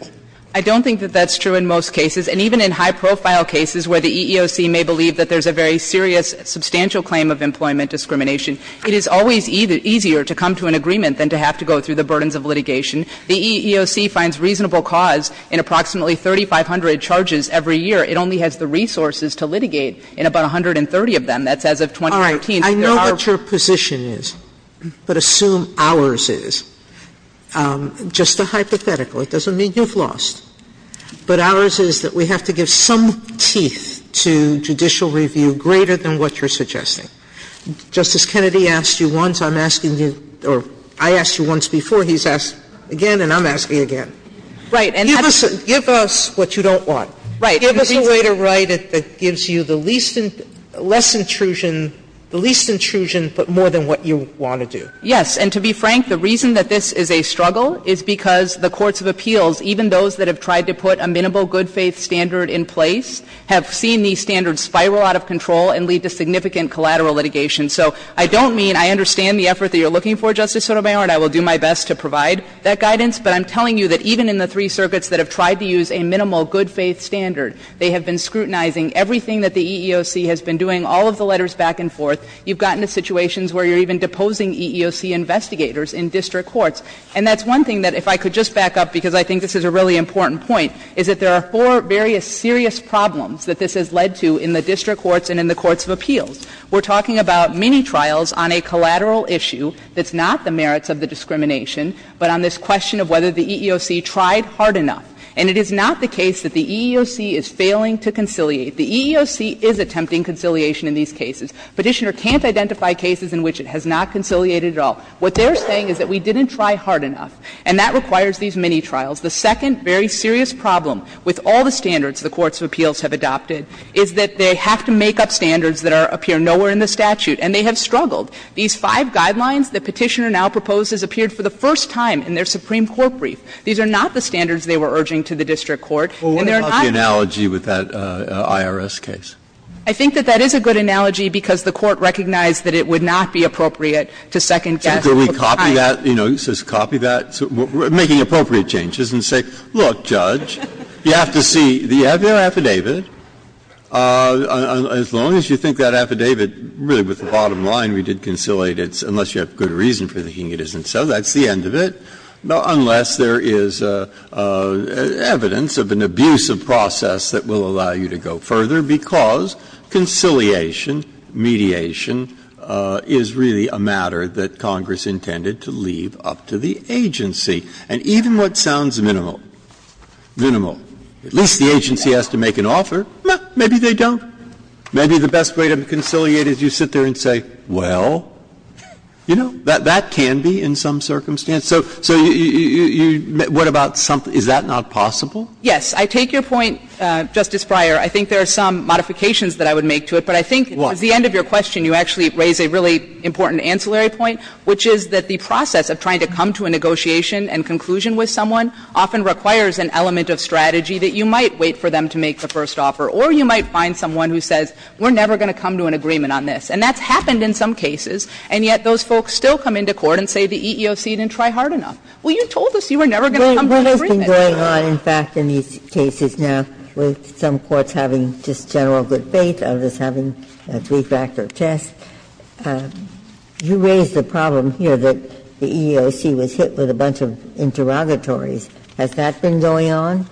I don't think that that's true in most cases. And even in high-profile cases where the EEOC may believe that there's a very serious substantial claim of employment discrimination, it is always easier to come to an agreement than to have to go through the burdens of litigation. The EEOC finds reasonable cause in approximately 3,500 charges every year. It only has the resources to litigate in about 130 of them. That's as of 2014. Sotomayor, I know what your position is, but assume ours is. Just a hypothetical. It doesn't mean you've lost. But ours is that we have to give some teeth to judicial review greater than what you're suggesting. Justice Kennedy asked you once. I'm asking you or I asked you once before. He's asked again and I'm asking again. Right. And that's the reason. Give us what you don't want. Right. Give us a way to write it that gives you the least intrusion, but more than what you want to do. Yes. And to be frank, the reason that this is a struggle is because the courts of appeals, even those that have tried to put a minimal good-faith standard in place, have seen these standards spiral out of control and lead to significant collateral litigation. So I don't mean I understand the effort that you're looking for, Justice Sotomayor, and I will do my best to provide that guidance. But I'm telling you that even in the three circuits that have tried to use a minimal good-faith standard, they have been scrutinizing everything that the EEOC has been doing, all of the letters back and forth. You've gotten to situations where you're even deposing EEOC investigators in district courts. And that's one thing that, if I could just back up, because I think this is a really important point, is that there are four various serious problems that this has led to in the district courts and in the courts of appeals. We're talking about mini-trials on a collateral issue that's not the merits of the discrimination, but on this question of whether the EEOC tried hard enough. And it is not the case that the EEOC is failing to conciliate. The EEOC is attempting conciliation in these cases. Petitioner can't identify cases in which it has not conciliated at all. What they are saying is that we didn't try hard enough, and that requires these mini-trials. The second very serious problem with all the standards the courts of appeals have adopted is that they have to make up standards that are, appear nowhere in the statute, and they have struggled. These five guidelines that Petitioner now proposes appeared for the first time in their Supreme Court brief. These are not the standards they were urging to the district court, and they're not the standards they have put forth. Breyer. I think that that is a good analogy because the court recognized that it would not be appropriate to second-guess. Breyer. So can we copy that, you know, just copy that, making appropriate changes and say, look, Judge, you have to see, do you have your affidavit? As long as you think that affidavit, really with the bottom line, we did conciliate it, unless you have good reason for thinking it isn't so, that's the end of it, unless there is evidence of an abusive process that will allow you to go further because conciliation, mediation, is really a matter that Congress intended to leave up to the agency. And even what sounds minimal, minimal, at least the agency has to make an offer. Maybe they don't. Maybe the best way to conciliate is you sit there and say, well, you know, that can be in some circumstance. So you – what about something – is that not possible? Yes. I take your point, Justice Breyer. I think there are some modifications that I would make to it. But I think at the end of your question, you actually raise a really important ancillary point, which is that the process of trying to come to a negotiation and conclusion with someone often requires an element of strategy that you might wait for them to make the first offer, or you might find someone who says, we're never going to come to an agreement on this. And that's happened in some cases, and yet those folks still come into court and say the EEOC didn't try hard enough. Well, you told us you were never going to come to an agreement. Ginsburg. What has been going on, in fact, in these cases now, with some courts having just general good faith, others having a three-factor test? You raised the problem here that the EEOC was hit with a bunch of interrogatories. Has that been going on?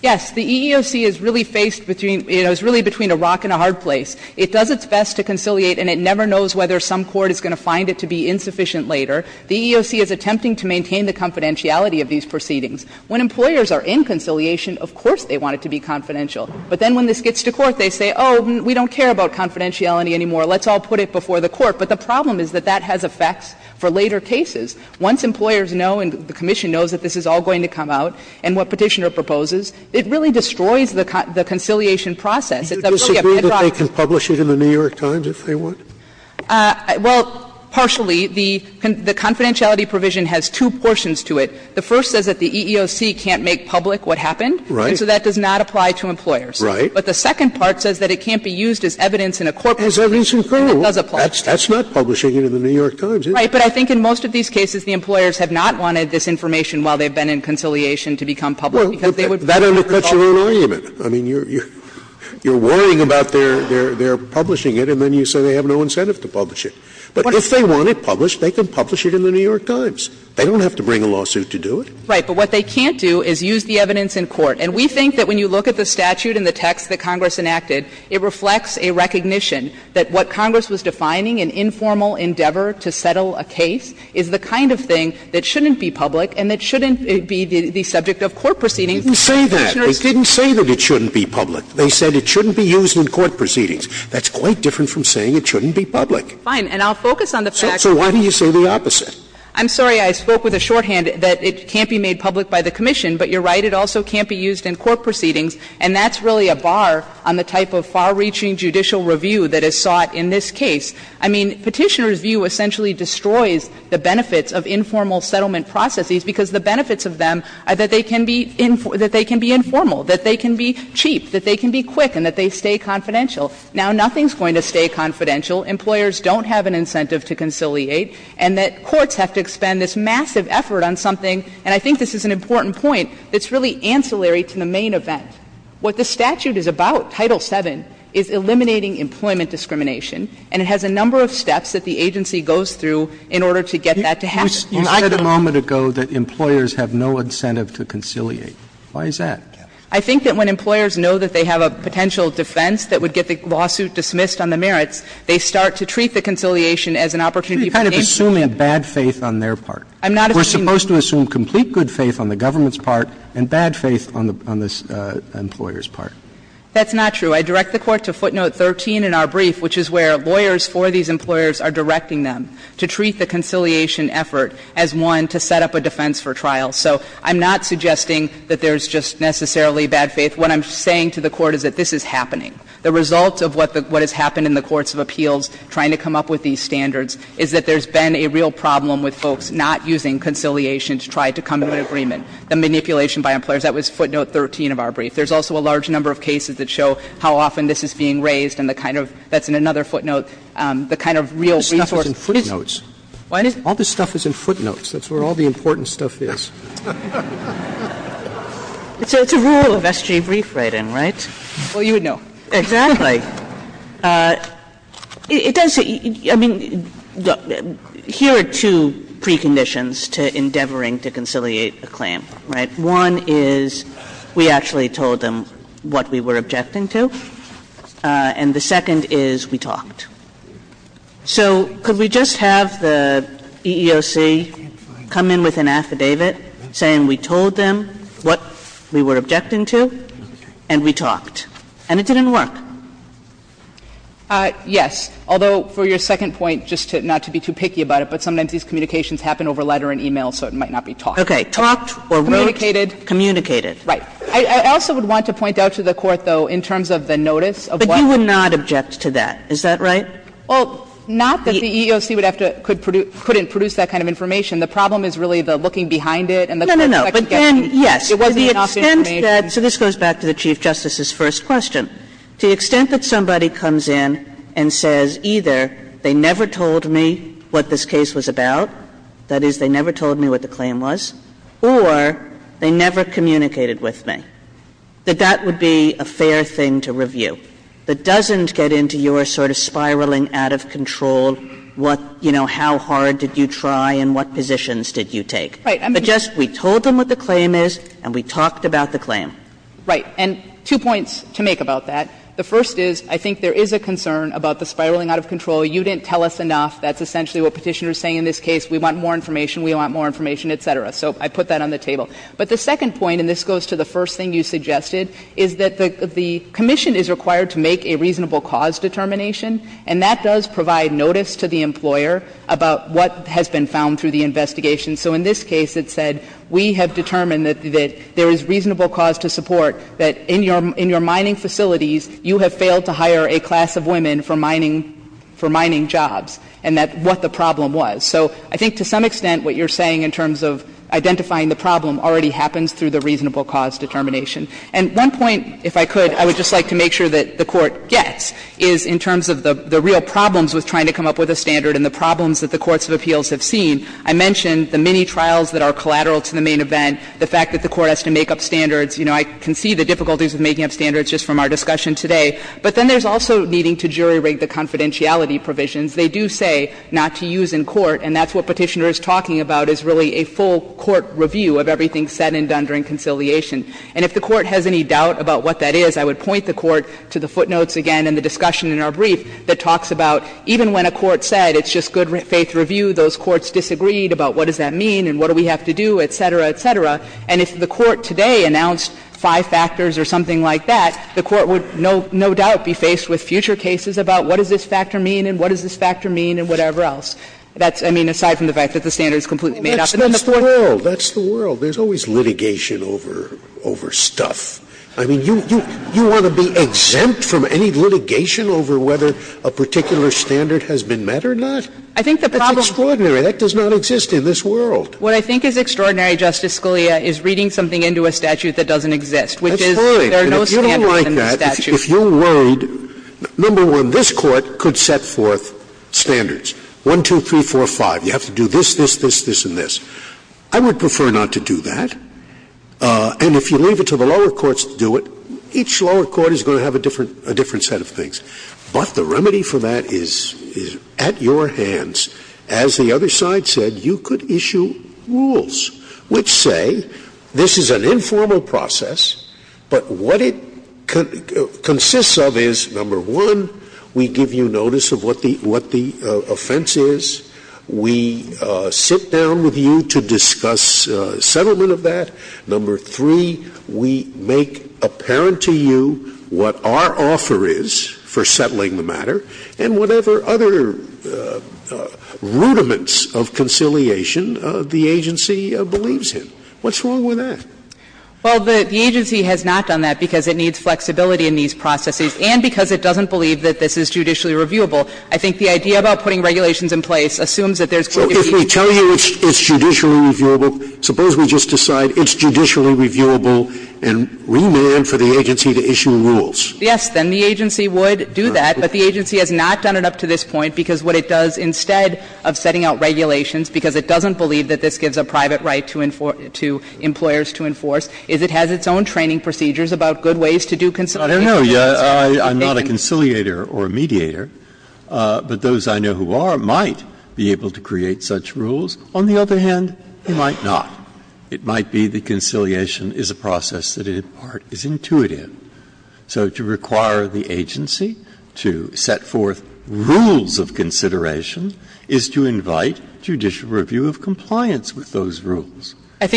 Yes. The EEOC is really faced between – you know, is really between a rock and a hard place. It does its best to conciliate, and it never knows whether some court is going to find it to be insufficient later. The EEOC is attempting to maintain the confidentiality of these proceedings. When employers are in conciliation, of course they want it to be confidential. But then when this gets to court, they say, oh, we don't care about confidentiality anymore, let's all put it before the court. But the problem is that that has effects for later cases. Once employers know and the commission knows that this is all going to come out and what Petitioner proposes, it really destroys the conciliation process. It's a really a petrified case. Scalia. Did you disagree that they can publish it in the New York Times if they want? Well, partially. The confidentiality provision has two portions to it. The first says that the EEOC can't make public what happened. Right. And so that does not apply to employers. Right. But the second part says that it can't be used as evidence in a corporate case. As evidence in court. And it does apply. That's not publishing it in the New York Times, is it? Right. But I think in most of these cases the employers have not wanted this information while they've been in conciliation to become public, because they would find it public. Well, that undercuts your own argument. I mean, you're worrying about their publishing it, and then you say they have no interest or no incentive to publish it. But if they want it published, they can publish it in the New York Times. They don't have to bring a lawsuit to do it. Right. But what they can't do is use the evidence in court. And we think that when you look at the statute and the text that Congress enacted, it reflects a recognition that what Congress was defining, an informal endeavor to settle a case, is the kind of thing that shouldn't be public and that shouldn't be the subject of court proceedings. Didn't say that. They didn't say that it shouldn't be public. They said it shouldn't be used in court proceedings. That's quite different from saying it shouldn't be public. Fine. And I'll focus on the fact that the court said it shouldn't be public. So why do you say the opposite? I'm sorry. I spoke with a shorthand that it can't be made public by the commission. But you're right. It also can't be used in court proceedings. And that's really a bar on the type of far-reaching judicial review that is sought in this case. I mean, Petitioner's view essentially destroys the benefits of informal settlement processes, because the benefits of them are that they can be informal, that they can be cheap, that they can be quick, and that they stay confidential. Now, nothing's going to stay confidential. Employers don't have an incentive to conciliate, and that courts have to expend this massive effort on something, and I think this is an important point, that's really ancillary to the main event. What the statute is about, Title VII, is eliminating employment discrimination, and it has a number of steps that the agency goes through in order to get that to happen. Well, I can't. You said a moment ago that employers have no incentive to conciliate. Why is that? I think that when employers know that they have a potential defense that would get the lawsuit dismissed on the merits, they start to treat the conciliation as an opportunity for the agency to do that. You're kind of assuming bad faith on their part. I'm not assuming that. We're supposed to assume complete good faith on the government's part and bad faith on the employer's part. That's not true. I direct the Court to footnote 13 in our brief, which is where lawyers for these employers are directing them to treat the conciliation effort as one to set up a defense for trial. So I'm not suggesting that there's just necessarily bad faith. What I'm saying to the Court is that this is happening. The result of what has happened in the courts of appeals trying to come up with these standards is that there's been a real problem with folks not using conciliation to try to come to an agreement. The manipulation by employers, that was footnote 13 of our brief. There's also a large number of cases that show how often this is being raised and the kind of ‑‑ that's in another footnote, the kind of real resource. This stuff is in footnotes. What? All this stuff is in footnotes. That's where all the important stuff is. So it's a rule of SG brief writing, right? Well, you would know. Exactly. It does ‑‑ I mean, here are two preconditions to endeavoring to conciliate a claim, right? One is we actually told them what we were objecting to, and the second is we talked. So could we just have the EEOC come in with an affidavit saying we told them what we were objecting to and we talked, and it didn't work? Yes. Although, for your second point, just to ‑‑ not to be too picky about it, but sometimes these communications happen over letter and e-mail, so it might not be talked. Okay. Talked or wrote. Communicated. Communicated. Right. I also would want to point out to the Court, though, in terms of the notice of what the ‑‑ But you would not object to that. Is that right? Well, not that the EEOC would have to ‑‑ couldn't produce that kind of information. The problem is really the looking behind it and the fact that it was the inaugural information. So this goes back to the Chief Justice's first question. To the extent that somebody comes in and says either they never told me what this case was about, that is, they never told me what the claim was, or they never communicated with me, that that would be a fair thing to review. But doesn't get into your sort of spiraling out of control what, you know, how hard did you try and what positions did you take. Right. But just we told them what the claim is and we talked about the claim. Right. And two points to make about that. The first is, I think there is a concern about the spiraling out of control. You didn't tell us enough. That's essentially what Petitioner is saying in this case. We want more information, we want more information, et cetera. So I put that on the table. But the second point, and this goes to the first thing you suggested, is that the Commission is required to make a reasonable cause determination, and that does provide notice to the employer about what has been found through the investigation. So in this case, it said we have determined that there is reasonable cause to support that in your mining facilities you have failed to hire a class of women for mining jobs, and that's what the problem was. So I think to some extent what you're saying in terms of identifying the problem already happens through the reasonable cause determination. And one point, if I could, I would just like to make sure that the Court gets, is in terms of the real problems with trying to come up with a standard and the problems that the courts of appeals have seen. I mentioned the many trials that are collateral to the main event, the fact that the Court has to make up standards. You know, I can see the difficulties of making up standards just from our discussion today. But then there's also needing to jury rig the confidentiality provisions. They do say not to use in court, and that's what Petitioner is talking about, is really a full court review of everything said and done during conciliation. And if the Court has any doubt about what that is, I would point the Court to the footnotes again in the discussion in our brief that talks about even when a court said it's just good faith review, those courts disagreed about what does that mean and what do we have to do, et cetera, et cetera. And if the Court today announced five factors or something like that, the Court would no doubt be faced with future cases about what does this factor mean and what does this factor mean and whatever else. That's, I mean, aside from the fact that the standard is completely made up. And then the Court can't do that. Scalia, I think you're over-stuffed. I mean, you want to be exempt from any litigation over whether a particular standard has been met or not? That's extraordinary. That does not exist in this world. What I think is extraordinary, Justice Scalia, is reading something into a statute that doesn't exist, which is there are no standards in the statute. That's fine. If you don't like that, if you're worried, number one, this Court could set forth standards, one, two, three, four, five. You have to do this, this, this, this, and this. I would prefer not to do that. And if you leave it to the lower courts to do it, each lower court is going to have a different set of things. But the remedy for that is at your hands. As the other side said, you could issue rules which say this is an informal process, but what it consists of is, number one, we give you notice of what the offense is. We sit down with you to discuss settlement of that. Number three, we make apparent to you what our offer is for settling the matter, and whatever other rudiments of conciliation the agency believes in. What's wrong with that? Well, the agency has not done that because it needs flexibility in these processes and because it doesn't believe that this is judicially reviewable. I think the idea about putting regulations in place assumes that there's going to be a fee. Scalia, so if we tell you it's judicially reviewable, suppose we just decide it's judicially reviewable and remand for the agency to issue rules? Yes, then the agency would do that, but the agency has not done it up to this point because what it does instead of setting out regulations, because it doesn't believe that this gives a private right to employers to enforce, is it has its own training procedures about good ways to do conciliation. Breyer, I'm not a conciliator or a mediator, but those I know who are might be able to create such rules. On the other hand, they might not. It might be that conciliation is a process that, in part, is intuitive. So to require the agency to set forth rules of consideration is to invite judicial review of compliance with those rules. That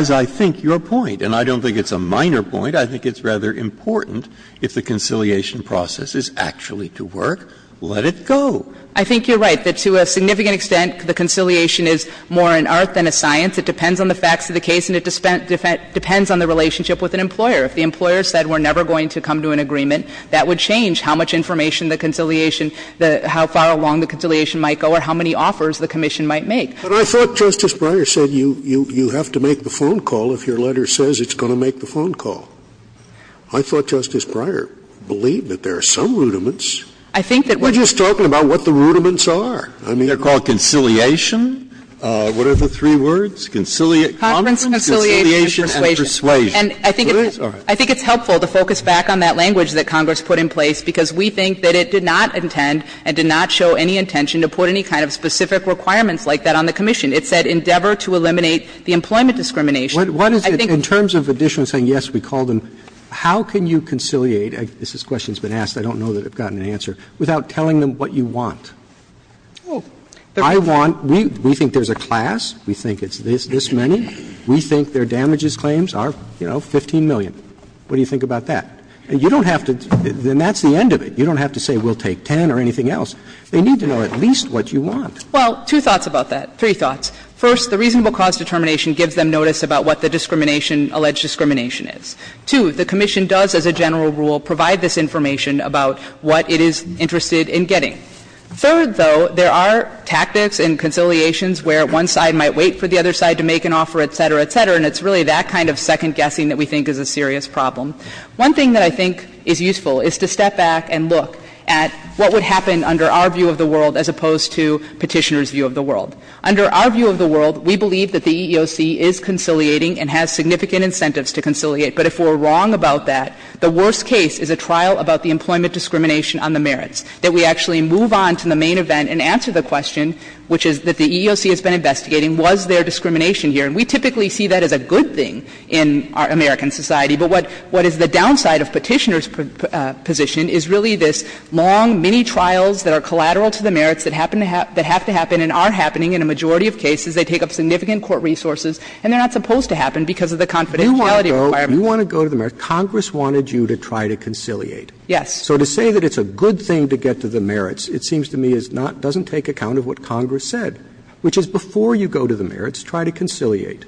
is, I think, your point, and I don't think it's a minor point. I think it's rather important if the conciliation process is actually to work, let it go. I think you're right that to a significant extent, the conciliation is more an art than a science. It depends on the facts of the case and it depends on the relationship with an employer. If the employer said we're never going to come to an agreement, that would change how much information the conciliation, how far along the conciliation might go or how many offers the commission might make. But I thought Justice Breyer said you have to make the phone call if your letter says it's going to make the phone call. I thought Justice Breyer believed that there are some rudiments. We're just talking about what the rudiments are. I mean, they're called conciliation. What are the three words? Conciliate, conference, conciliation, and persuasion. And I think it's helpful to focus back on that language that Congress put in place, because we think that it did not intend and did not show any intention to put any kind of specific requirements like that on the commission. It said endeavor to eliminate the employment discrimination. Roberts, what is it, in terms of additional saying, yes, we called them, how can you conciliate, this question's been asked, I don't know that I've gotten an answer, without telling them what you want? I want, we think there's a class, we think it's this many, we think their damages claims are, you know, 15 million. What do you think about that? You don't have to, then that's the end of it. You don't have to say we'll take 10 or anything else. They need to know at least what you want. Well, two thoughts about that, three thoughts. First, the reasonable cause determination gives them notice about what the discrimination alleged discrimination is. Two, the commission does, as a general rule, provide this information about what it is interested in getting. Third, though, there are tactics and conciliations where one side might wait for the other side to make an offer, et cetera, et cetera, and it's really that kind of second guessing that we think is a serious problem. One thing that I think is useful is to step back and look at what would happen under our view of the world as opposed to Petitioner's view of the world. Under our view of the world, we believe that the EEOC is conciliating and has significant incentives to conciliate. But if we're wrong about that, the worst case is a trial about the employment discrimination on the merits, that we actually move on to the main event and answer the question, which is that the EEOC has been investigating was there discrimination here. And we typically see that as a good thing in American society, but what is the downside of Petitioner's position is really this long, mini-trials that are collateral to the merits that happen to have to happen and are happening in a majority of cases. They take up significant court resources, and they're not supposed to happen because of the confidentiality requirement. Roberts. Congress wanted you to try to conciliate. Yes. So to say that it's a good thing to get to the merits, it seems to me, is not doesn't take account of what Congress said, which is before you go to the merits, try to conciliate.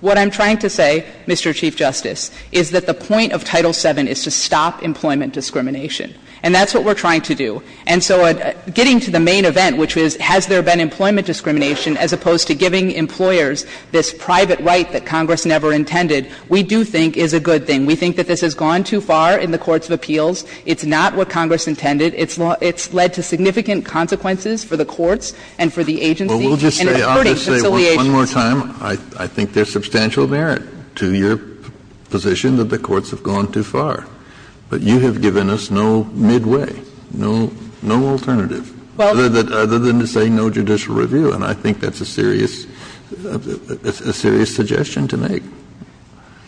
What I'm trying to say, Mr. Chief Justice, is that the point of Title VII is to stop employment discrimination. And that's what we're trying to do. And so getting to the main event, which is has there been employment discrimination as opposed to giving employers this private right that Congress never intended, we do think is a good thing. We think that this has gone too far in the courts of appeals. It's not what Congress intended. It's led to significant consequences for the courts and for the agency. And it's hurting conciliation. Kennedy, one more time, I think there's substantial merit to your position that the courts have gone too far. But you have given us no midway, no alternative, other than to say no judicial review, and I think that's a serious, a serious suggestion to make.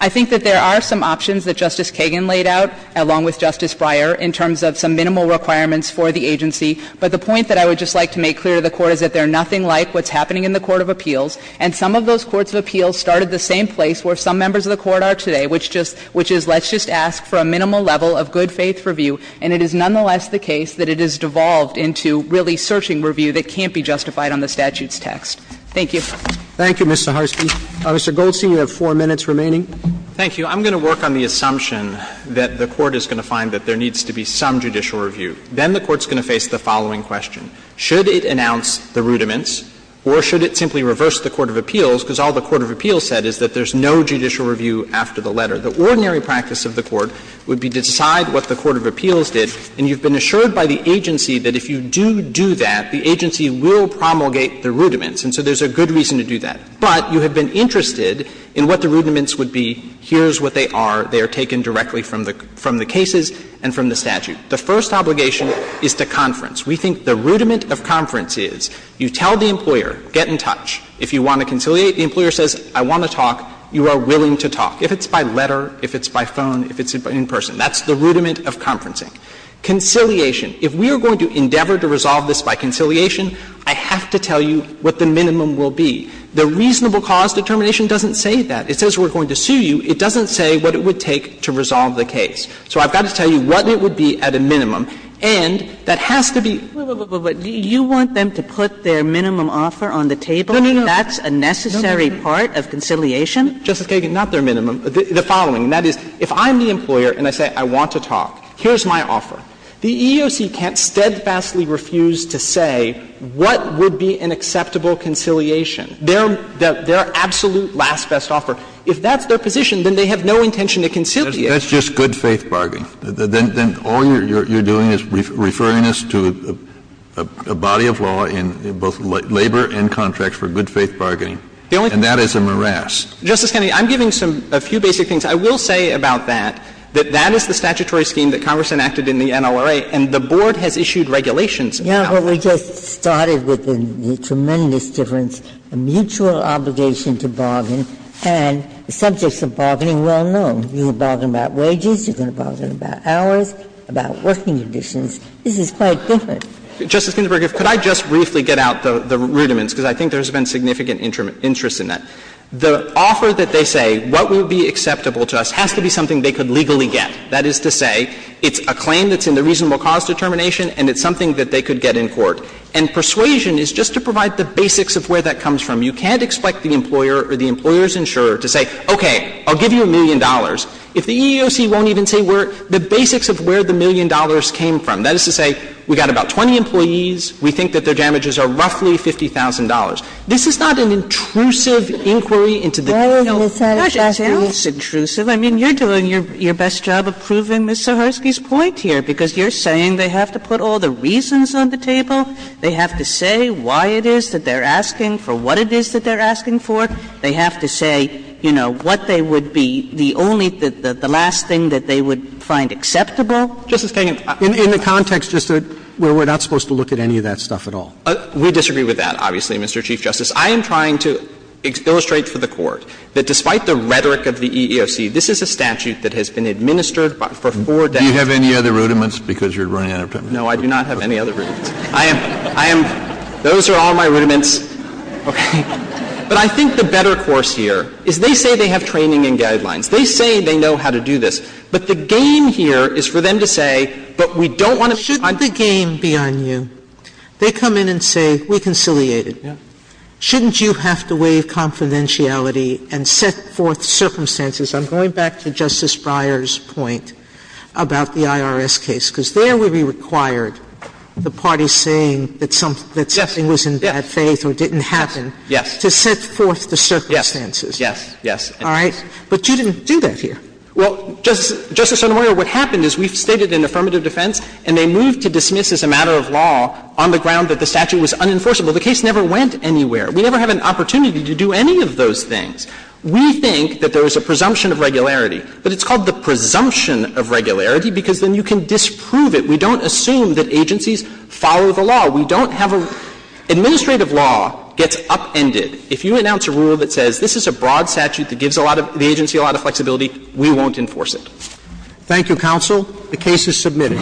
I think that there are some options that Justice Kagan laid out, along with Justice Breyer, in terms of some minimal requirements for the agency. But the point that I would just like to make clear to the Court is that they're nothing like what's happening in the court of appeals, and some of those courts of appeals started the same place where some members of the Court are today, which just, which is let's just ask for a minimal level of good-faith review, and it is nonetheless the case that it is devolved into really searching review that can't be justified on the statute's text. Thank you. Roberts. Thank you, Ms. Saharsky. Mr. Goldstein, you have four minutes remaining. Thank you. I'm going to work on the assumption that the Court is going to find that there needs to be some judicial review. Then the Court's going to face the following question. Should it announce the rudiments, or should it simply reverse the court of appeals, because all the court of appeals said is that there's no judicial review after the letter. The ordinary practice of the Court would be to decide what the court of appeals did, and you've been assured by the agency that if you do do that, the agency will promulgate the rudiments, and so there's a good reason to do that. But you have been interested in what the rudiments would be, here's what they are, they are taken directly from the cases and from the statute. The first obligation is to conference. We think the rudiment of conference is you tell the employer, get in touch, if you want to conciliate, the employer says, I want to talk, you are willing to talk. If it's by letter, if it's by phone, if it's in person, that's the rudiment of conferencing. Conciliation. If we are going to endeavor to resolve this by conciliation, I have to tell you what the minimum will be. The reasonable cause determination doesn't say that. It says we're going to sue you. It doesn't say what it would take to resolve the case. So I've got to tell you what it would be at a minimum. And that has to be ---- Kagan, but do you want them to put their minimum offer on the table, that's a necessary part of conciliation? Justice Kagan, not their minimum. The following, and that is, if I'm the employer and I say I want to talk, here's my offer. The EEOC can't steadfastly refuse to say what would be an acceptable conciliation. Their absolute last best offer, if that's their position, then they have no intention to conciliate. That's just good-faith bargaining. Then all you're doing is referring us to a body of law in both labor and contracts for good-faith bargaining. And that is a morass. Justice Kennedy, I'm giving some ---- a few basic things. I will say about that, that that is the statutory scheme that Congress enacted in the NLRA, and the board has issued regulations about it. Yeah, but we just started with the tremendous difference, a mutual obligation to bargain, and the subjects of bargaining well know. You can bargain about wages, you can bargain about hours, about working conditions. This is quite different. Justice Ginsburg, could I just briefly get out the rudiments, because I think there has been significant interest in that. The offer that they say what would be acceptable to us has to be something they could legally get. That is to say, it's a claim that's in the reasonable cause determination and it's something that they could get in court. And persuasion is just to provide the basics of where that comes from. You can't expect the employer or the employer's insurer to say, okay, I'll give you a million dollars, if the EEOC won't even say where the basics of where the million dollars came from. That is to say, we've got about 20 employees, we think that their damages are roughly $50,000. This is not an intrusive inquiry into the details. It's not just intrusive. I mean, you're doing your best job of proving Ms. Zaharsky's point here, because you're saying they have to put all the reasons on the table, they have to say why it is that they're asking for what it is that they're asking for, they have to say, you know, what they would be, the only, the last thing that they would find acceptable. Justice Kagan, I'm sorry. In the context just of where we're not supposed to look at any of that stuff at all. We disagree with that, obviously, Mr. Chief Justice. I am trying to illustrate for the Court that despite the rhetoric of the EEOC, this is a statute that has been administered for four decades. Do you have any other rudiments because you're running out of time? No, I do not have any other rudiments. I am, I am, those are all my rudiments. But I think the better course here is they say they have training and guidelines. They say they know how to do this. But the game here is for them to say, but we don't want to be behind you. Sotomayor, shouldn't the game be on you? They come in and say, we conciliated. Shouldn't you have to waive confidentiality and set forth circumstances? I'm going back to Justice Breyer's point about the IRS case, because there we required the parties saying that something was in bad faith or didn't happen to set forth the circumstances. Yes, yes, yes. All right? But you didn't do that here. Well, Justice Sotomayor, what happened is we've stated in affirmative defense and they moved to dismiss as a matter of law on the ground that the statute was unenforceable. The case never went anywhere. We never have an opportunity to do any of those things. We think that there is a presumption of regularity, but it's called the presumption of regularity because then you can disprove it. We don't assume that agencies follow the law. We don't have a – administrative law gets upended. If you announce a rule that says this is a broad statute that gives a lot of – the agency a lot of flexibility, we won't enforce it. Thank you, counsel. The case is submitted.